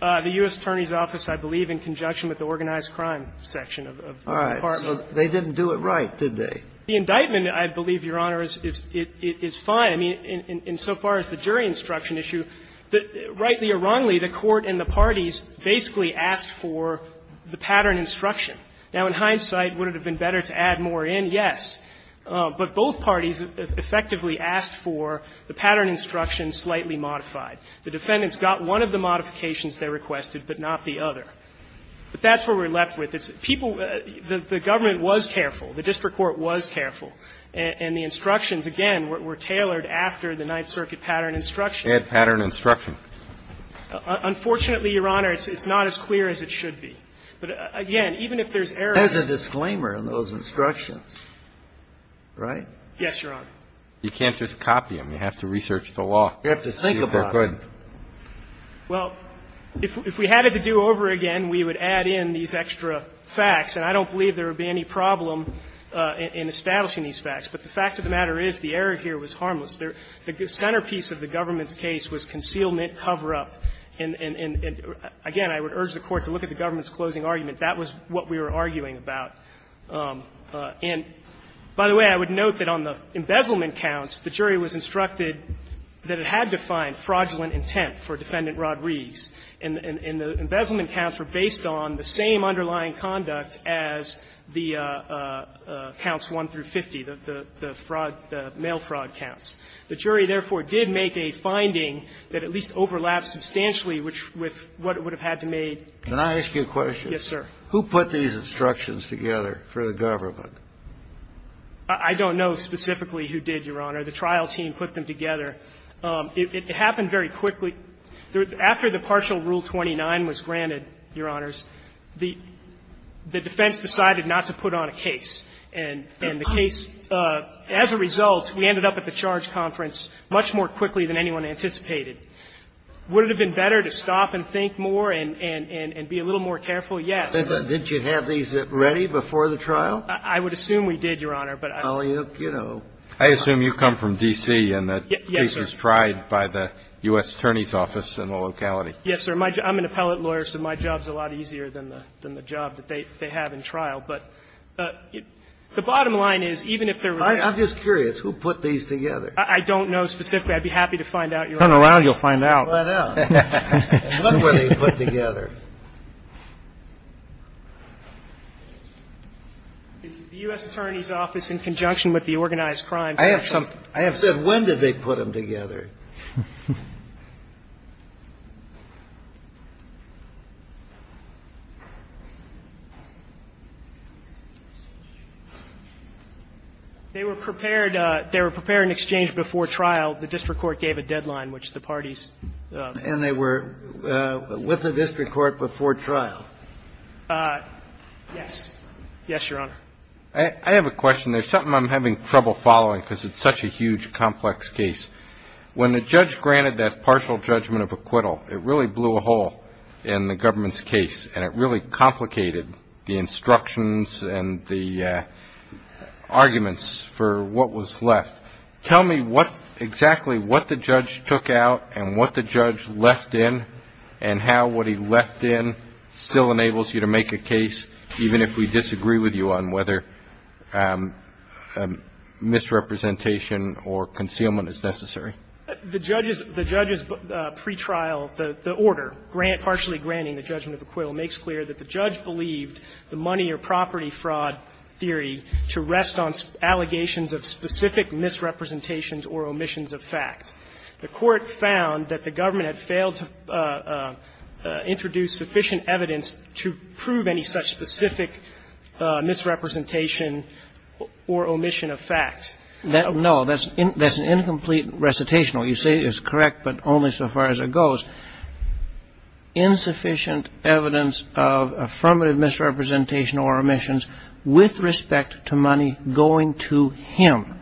The U.S. Attorney's Office, I believe, in conjunction with the organized crime section of the Department. All right. So they didn't do it right, did they? The indictment, I believe, Your Honor, is fine. I mean, insofar as the jury instruction issue, rightly or wrongly, the Court and the parties basically asked for the pattern instruction. Now, in hindsight, would it have been better to add more in? Yes. But both parties effectively asked for the pattern instruction slightly modified. The defendants got one of the modifications they requested, but not the other. But that's where we're left with. It's people – the government was careful. The district court was careful. And the instructions, again, were tailored after the Ninth Circuit pattern instruction. Bad pattern instruction. Unfortunately, Your Honor, it's not as clear as it should be. But again, even if there's error in it – There's a disclaimer in those instructions, right? Yes, Your Honor. You can't just copy them. You have to research the law. You have to think about it. Go ahead. Well, if we had it to do over again, we would add in these extra facts. And I don't believe there would be any problem in establishing these facts. But the fact of the matter is the error here was harmless. The centerpiece of the government's case was concealment, cover-up. And again, I would urge the Court to look at the government's closing argument. That was what we were arguing about. And by the way, I would note that on the embezzlement counts, the jury was instructed that it had defined fraudulent intent for Defendant Rod Riggs. And the embezzlement counts were based on the same underlying conduct as the counts 1 through 50, the fraud – the mail fraud counts. The jury, therefore, did make a finding that at least overlaps substantially with what it would have had to made. Can I ask you a question? Yes, sir. Who put these instructions together for the government? I don't know specifically who did, Your Honor. The trial team put them together. It happened very quickly. After the partial Rule 29 was granted, Your Honors, the defense decided not to put on a case. And the case, as a result, we ended up at the charge conference much more quickly than anyone anticipated. Would it have been better to stop and think more and be a little more careful? Yes. Didn't you have these ready before the trial? I would assume we did, Your Honor, but I don't know. I assume you come from D.C. and the case was tried by the U.S. Attorney's office in the locality. Yes, sir. I'm an appellate lawyer, so my job is a lot easier than the job that they have in trial. But the bottom line is, even if there was a ---- I'm just curious. Who put these together? I don't know specifically. I'd be happy to find out, Your Honor. Turn around, you'll find out. Find out. What were they put together? The U.S. Attorney's office in conjunction with the organized crime. I have some ---- I have said when did they put them together? They were prepared in exchange before trial. The district court gave a deadline, which the parties ---- And they were with the district court before trial? Yes. Yes, Your Honor. I have a question. There's something I'm having trouble following because it's such a huge, complex case. When the judge granted that partial judgment of acquittal, it really blew a hole in the government's case, and it really complicated the instructions and the arguments for what was left. Tell me exactly what the judge took out and what the judge left in and how what he left in still enables you to make a case, even if we disagree with you on whether misrepresentation or concealment is necessary. The judge's pretrial, the order partially granting the judgment of acquittal makes clear that the judge believed the money or property fraud theory to rest on allegations of specific misrepresentations or omissions of fact. The Court found that the government had failed to introduce sufficient evidence to prove any such specific misrepresentation or omission of fact. No, that's an incomplete recitational. You say it's correct, but only so far as it goes. Insufficient evidence of affirmative misrepresentation or omissions with respect to money going to him,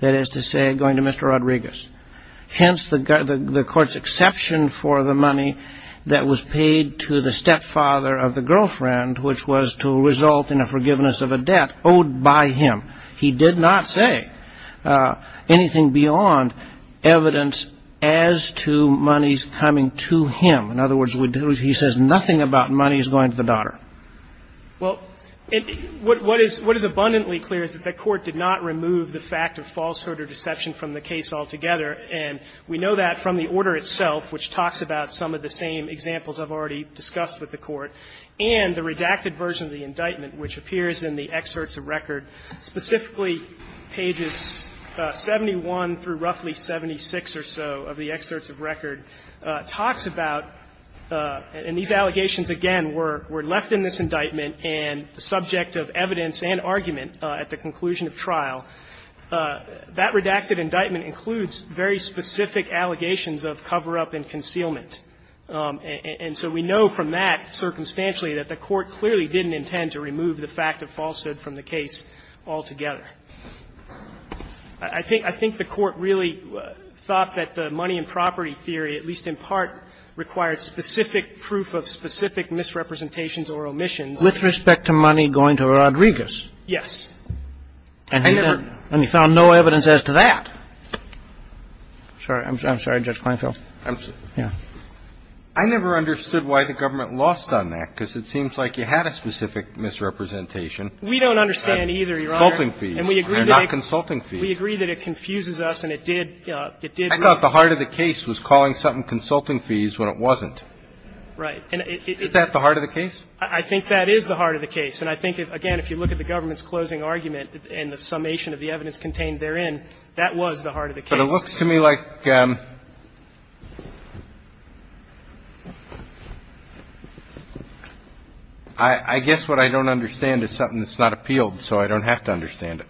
that is to say, going to Mr. Rodriguez. Hence, the court's exception for the money that was paid to the stepfather of the girlfriend, which was to result in a forgiveness of a debt owed by him. He did not say anything beyond evidence as to monies coming to him. In other words, he says nothing about monies going to the daughter. Well, what is abundantly clear is that the court did not remove the fact of falsehood or deception from the case altogether, and we know that from the order itself, which talks about some of the same examples I've already discussed with the court, and the redacted version of the indictment, which appears in the excerpts of record, specifically pages 71 through roughly 76 or so of the excerpts of record, talks about, and these allegations, again, were left in this indictment and the subject of evidence and argument at the conclusion of trial, that redacted indictment includes very specific allegations of cover-up and concealment. And so we know from that, circumstantially, that the court clearly didn't intend to remove the fact of falsehood from the case altogether. I think the court really thought that the money and property theory, at least in part, required specific proof of specific misrepresentations or omissions. Roberts. With respect to money going to Rodriguez. Yes. And he found no evidence as to that. I'm sorry, Judge Kleinfeld. I never understood why the government lost on that, because it seems like you had specific misrepresentation. We don't understand either, Your Honor. Consulting fees, not consulting fees. We agree that it confuses us, and it did, it did. I thought the heart of the case was calling something consulting fees when it wasn't. Right. Is that the heart of the case? I think that is the heart of the case. And I think, again, if you look at the government's closing argument and the summation of the evidence contained therein, that was the heart of the case. But it looks to me like I guess what I don't understand is something that's not appealed so I don't have to understand it.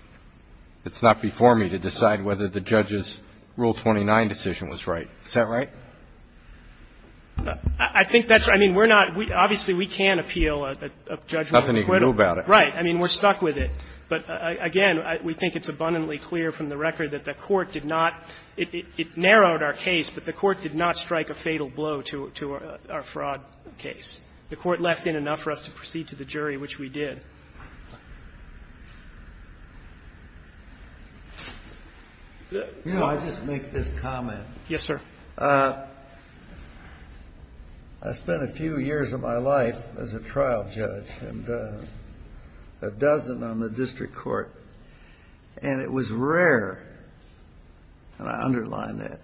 It's not before me to decide whether the judge's Rule 29 decision was right. Is that right? I think that's right. I mean, we're not we obviously we can't appeal a judgment. Nothing you can do about it. Right. I mean, we're stuck with it. But, again, we think it's abundantly clear from the record that the Court did not it narrowed our case, but the Court did not strike a fatal blow to our fraud case. The Court left in enough for us to proceed to the jury, which we did. You know, I'll just make this comment. Yes, sir. I spent a few years of my life as a trial judge, and a dozen on the district court, and it was rare, and I underline that,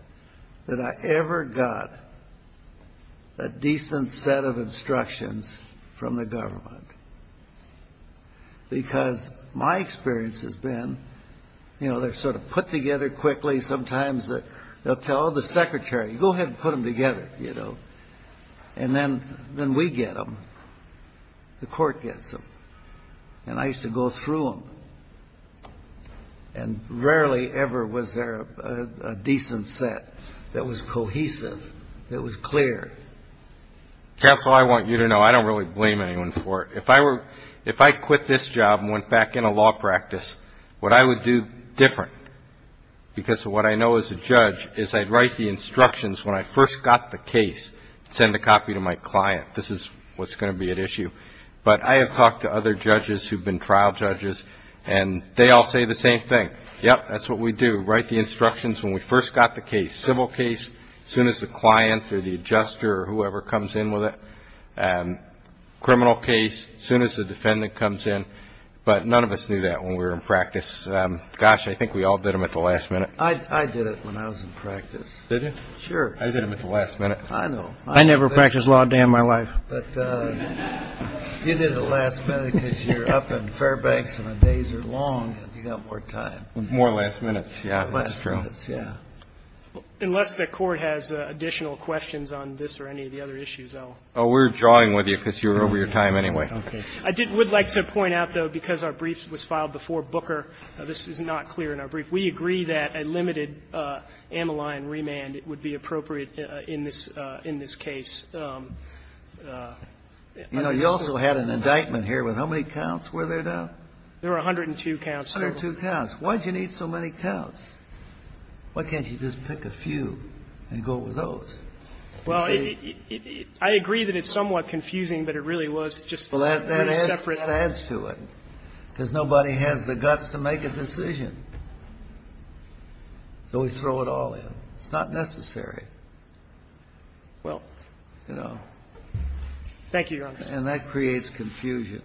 that I ever got a decent set of instructions from the government. Because my experience has been, you know, they're sort of put together quickly. Sometimes they'll tell the secretary, go ahead and put them together, you know. And then we get them. The Court gets them. And I used to go through them. And rarely ever was there a decent set that was cohesive, that was clear. Counsel, I want you to know, I don't really blame anyone for it. If I were, if I quit this job and went back into law practice, what I would do different, because of what I know as a judge, is I'd write the instructions when I first got the case, send a copy to my client. This is what's going to be at issue. But I have talked to other judges who've been trial judges, and they all say the same thing. Yep, that's what we do. Write the instructions when we first got the case. Civil case, as soon as the client, or the adjuster, or whoever comes in with it. Criminal case, as soon as the defendant comes in. But none of us knew that when we were in practice. Gosh, I think we all did them at the last minute. I did it when I was in practice. Did you? Sure. I did them at the last minute. I know. I never practiced law a day in my life. But you did it at the last minute because you're up in Fairbanks, and the days are long, and you've got more time. More last minutes, yeah, that's true. Less minutes, yeah. Unless the Court has additional questions on this or any of the other issues, I'll. Oh, we're drawing with you because you're over your time anyway. Okay. I did, would like to point out, though, because our brief was filed before Booker, this is not clear in our brief. If we agree that a limited ammaline remand would be appropriate in this case, I'm not sure. You know, you also had an indictment here with how many counts were there, Doug? There were 102 counts total. 102 counts. Why did you need so many counts? Why can't you just pick a few and go with those? Well, I agree that it's somewhat confusing, but it really was just a separate. That adds to it, because nobody has the guts to make a decision. So we throw it all in. It's not necessary. Well, you know. Thank you, Your Honor. And that creates confusion.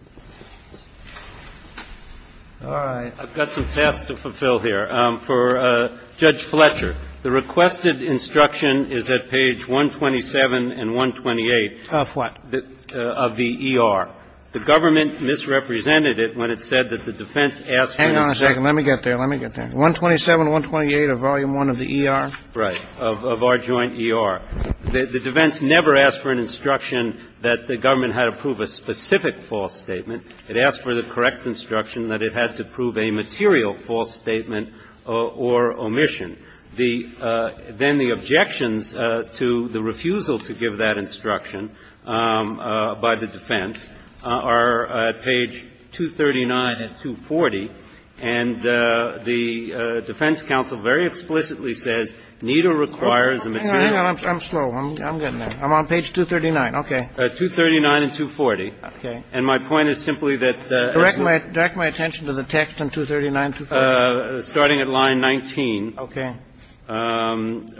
All right. I've got some tasks to fulfill here. For Judge Fletcher, the requested instruction is at page 127 and 128. Of what? Of the ER. The government misrepresented it when it said that the defense asked for instruction. Hang on a second. Let me get there. Let me get there. 127, 128 of Volume I of the ER? Right. Of our joint ER. The defense never asked for an instruction that the government had to prove a specific false statement. It asked for the correct instruction that it had to prove a material false statement or omission. Then the objections to the refusal to give that instruction by the defense are at page 239 and 240. And the defense counsel very explicitly says neither requires a material false statement. I'm slow. I'm getting there. I'm on page 239. Okay. 239 and 240. Okay. And my point is simply that the exit. Direct my attention to the text on 239 and 240. Starting at line 19. Okay. And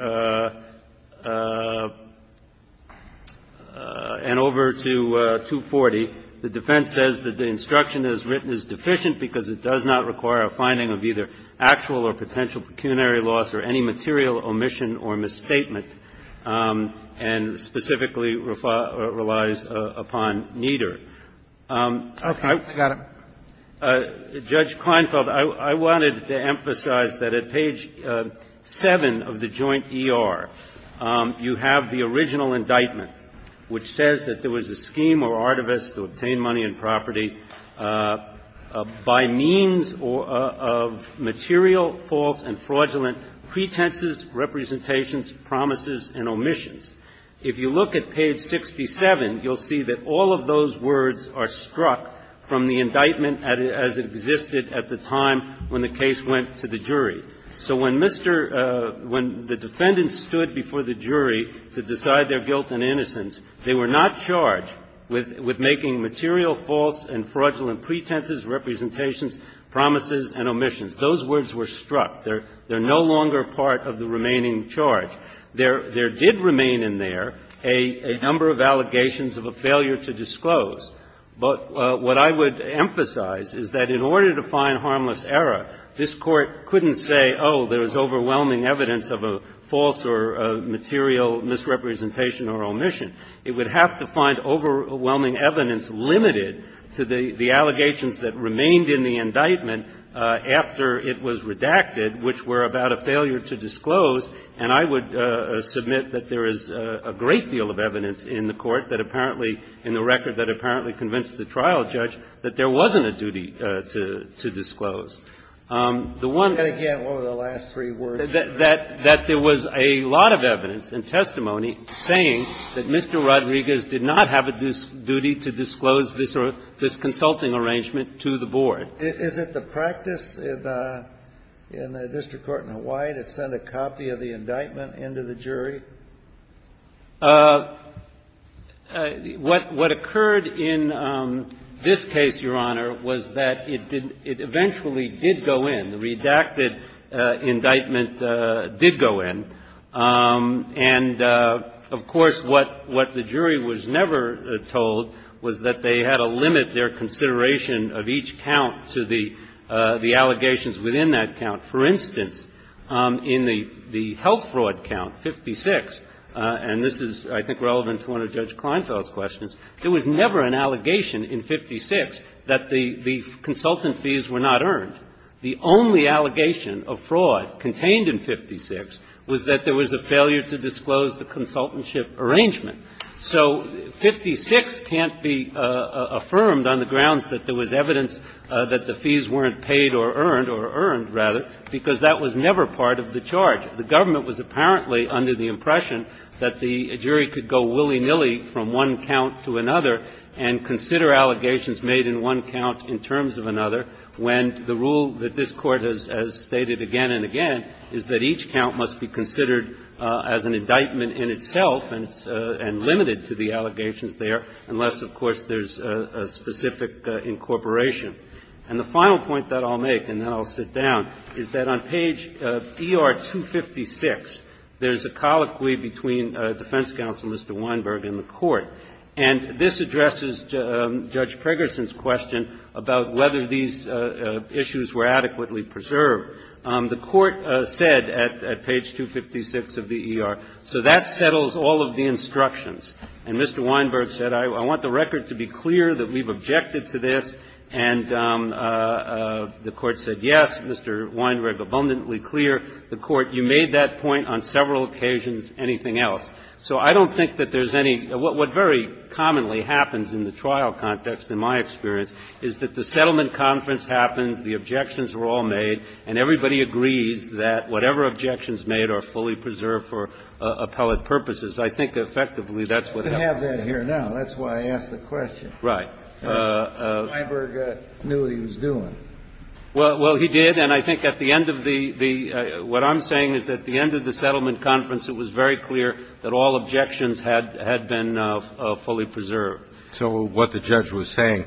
over to 240, the defense says that the instruction as written is deficient because it does not require a finding of either actual or potential pecuniary loss or any material omission or misstatement, and specifically relies upon neither. Okay. I got it. Judge Kleinfeld, I wanted to emphasize that at page 7 of the joint ER, you have the original indictment which says that there was a scheme or artifice to obtain money and property by means of material false and fraudulent pretenses, representations, promises, and omissions. If you look at page 67, you'll see that all of those words are struck from the indictment as it existed at the time when the case went to the jury. So when Mr. --" When the defendant stood before the jury to decide their guilt and innocence, they were not charged with making material false and fraudulent pretenses, representations, promises, and omissions. Those words were struck. They're no longer part of the remaining charge. There did remain in there a number of allegations of a failure to disclose. But what I would emphasize is that in order to find harmless error, this Court couldn't say, oh, there's overwhelming evidence of a false or material misrepresentation or omission. It would have to find overwhelming evidence limited to the allegations that remained in the indictment after it was redacted, which were about a failure to disclose. And I would submit that there is a great deal of evidence in the Court that apparently in the record that apparently convinced the trial judge that there wasn't a duty to disclose. The one --" And again, what were the last three words? That there was a lot of evidence and testimony saying that Mr. Rodriguez did not have a duty to disclose this consulting arrangement to the board. Is it the practice in the district court in Hawaii to send a copy of the indictment into the jury? What occurred in this case, Your Honor, was that it eventually did go in. The redacted indictment did go in. And, of course, what the jury was never told was that they had to limit their consideration of each count to the allegations within that count. For instance, in the health fraud count, 56, and this is, I think, relevant to one of Judge Kleinfeld's questions, there was never an allegation in 56 that the consultant fees were not earned. The only allegation of fraud contained in 56 was that there was a failure to disclose the consultantship arrangement. So 56 can't be affirmed on the grounds that there was evidence that the fees weren't paid or earned, or earned, rather, because that was never part of the charge. The government was apparently under the impression that the jury could go willy-nilly from one count to another and consider allegations made in one count in terms of another when the rule that this Court has stated again and again is that each count must be considered as an indictment in itself and limited to the allegations there, unless, of course, there's a specific incorporation. And the final point that I'll make, and then I'll sit down, is that on page ER-256, there's a colloquy between Defense Counsel Mr. Weinberg and the Court. And this addresses Judge Pregerson's question about whether these issues were adequately preserved. The Court said at page 256 of the ER, so that settles all of the instructions. And Mr. Weinberg said, I want the record to be clear that we've objected to this and the Court said, yes, Mr. Weinberg, abundantly clear. The Court, you made that point on several occasions, anything else. So I don't think that there's any – what very commonly happens in the trial context, in my experience, is that the settlement conference happens, the objections were all made, and everybody agrees that whatever objections made are fully preserved for appellate purposes. I think effectively that's what happened. I'm here now, that's why I asked the question. Right. Weinberg knew what he was doing. Well, he did, and I think at the end of the – what I'm saying is at the end of the settlement conference, it was very clear that all objections had been fully preserved. So what the judge was saying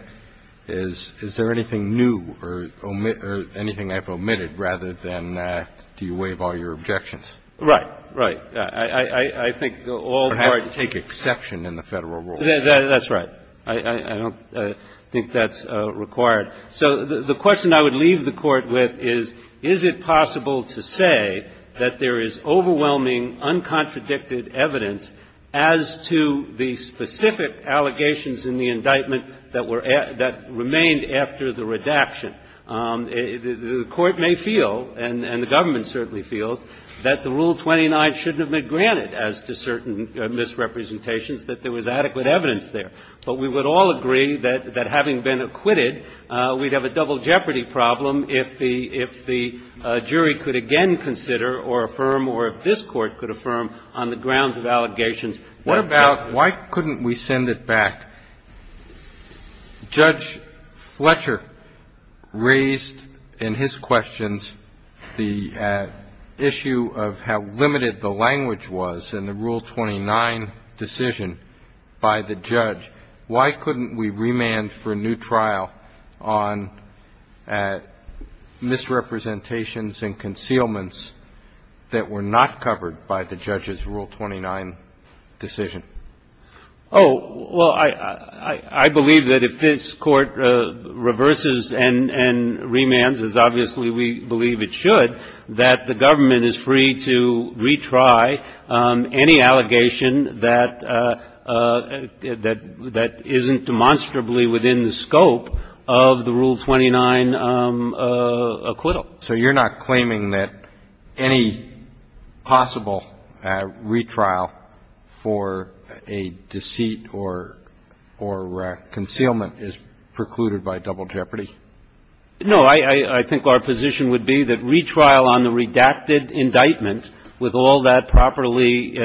is, is there anything new or anything I've omitted rather than do you waive all your objections? Right, right. I think all the – You don't have to take exception in the Federal rule. That's right. I don't think that's required. So the question I would leave the Court with is, is it possible to say that there is overwhelming, uncontradicted evidence as to the specific allegations in the indictment that were – that remained after the redaction? The Court may feel, and the government certainly feels, that the Rule 29 shouldn't have been granted as to certain misrepresentations, that there was adequate evidence there. But we would all agree that having been acquitted, we'd have a double jeopardy problem if the jury could again consider or affirm or if this Court could affirm on the grounds of allegations that were there. What about why couldn't we send it back? Judge Fletcher raised in his questions the issue of how limited the language was in the Rule 29 decision by the judge. Why couldn't we remand for a new trial on misrepresentations and concealments that were not covered by the judge's Rule 29 decision? Oh, well, I believe that if this Court reverses and remands, as obviously we believe it should, that the government is free to retry any allegation that isn't demonstrably within the scope of the Rule 29 acquittal. So you're not claiming that any possible retrial for a deceit or concealment is precluded by double jeopardy? No. I think our position would be that retrial on the redacted indictment, with all that properly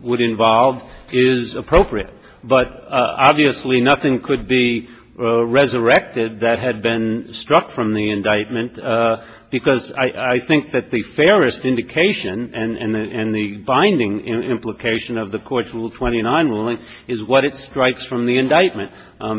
would involve, is appropriate. But obviously nothing could be resurrected that had been struck from the indictment, because I think that the fairest indication and the binding implication of the Court's Rule 29 ruling is what it strikes from the indictment.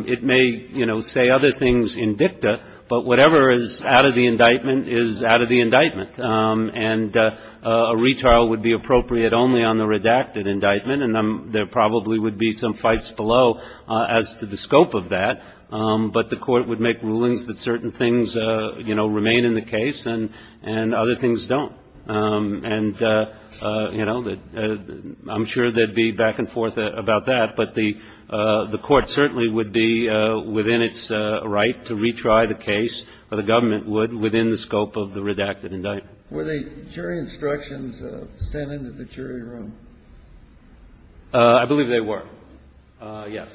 It may, you know, say other things in dicta, but whatever is out of the indictment is out of the indictment. And a retrial would be appropriate only on the redacted indictment, and there probably would be some fights below as to the scope of that. But the Court would make rulings that certain things, you know, remain in the case and other things don't. And, you know, I'm sure there'd be back and forth about that. But the Court certainly would be within its right to retry the case, or the government would, within the scope of the redacted indictment. Were the jury instructions sent into the jury room? I believe they were, yes.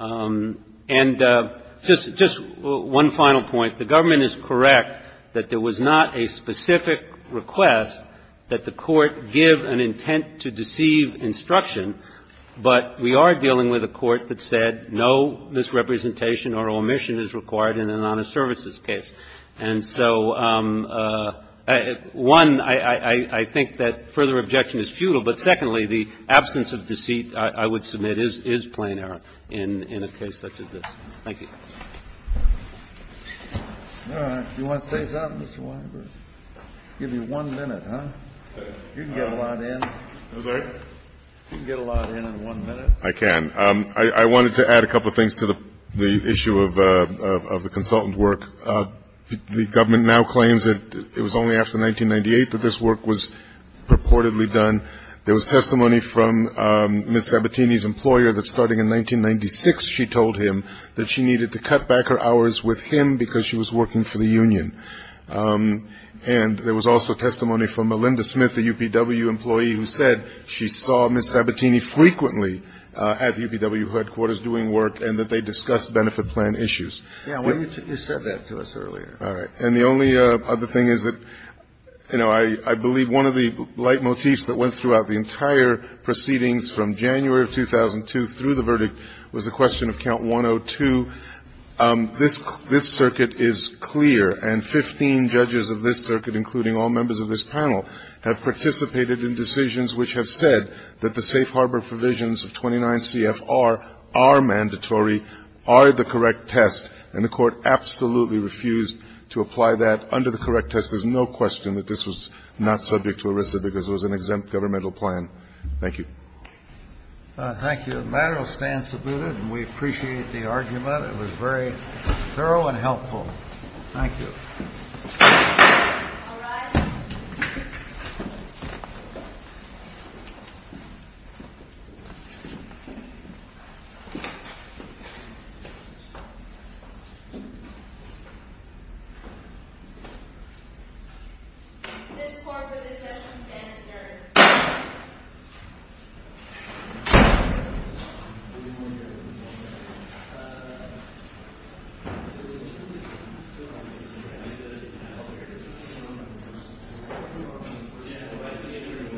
And just one final point. The government is correct that there was not a specific request that the Court give an intent to deceive instruction. But we are dealing with a Court that said no misrepresentation or omission is required in an honest services case. And so, one, I think that further objection is futile. But secondly, the absence of deceit, I would submit, is plain error in a case such as this. Thank you. Kennedy. You want to say something, Mr. Weinberg? I'll give you one minute, huh? You can get a lot in. Weinberg. You can get a lot in in one minute. I can. I wanted to add a couple of things to the issue of the consultant work. The government now claims that it was only after 1998 that this work was purportedly done. There was testimony from Ms. Sabatini's employer that starting in 1996, she told him that she needed to cut back her hours with him because she was working for the union. And there was also testimony from Melinda Smith, a UPW employee, who said she saw Ms. Sabatini frequently at UPW headquarters doing work and that they discussed benefit plan issues. Yeah. You said that to us earlier. All right. And the only other thing is that, you know, I believe one of the leitmotifs that went throughout the entire proceedings from January of 2002 through the verdict was the question of Count 102. This circuit is clear, and 15 judges of this circuit, including all members of this panel, have participated in decisions which have said that the safe harbor provisions of 29 CFR are mandatory, are the correct test, and the Court absolutely refused to apply that under the correct test. There's no question that this was not subject to ERISA because it was an exempt governmental plan. Thank you. Thank you. The matter will stand submitted, and we appreciate the argument. It was very thorough and helpful. Thank you. All rise. This court for this session is adjourned. Thank you.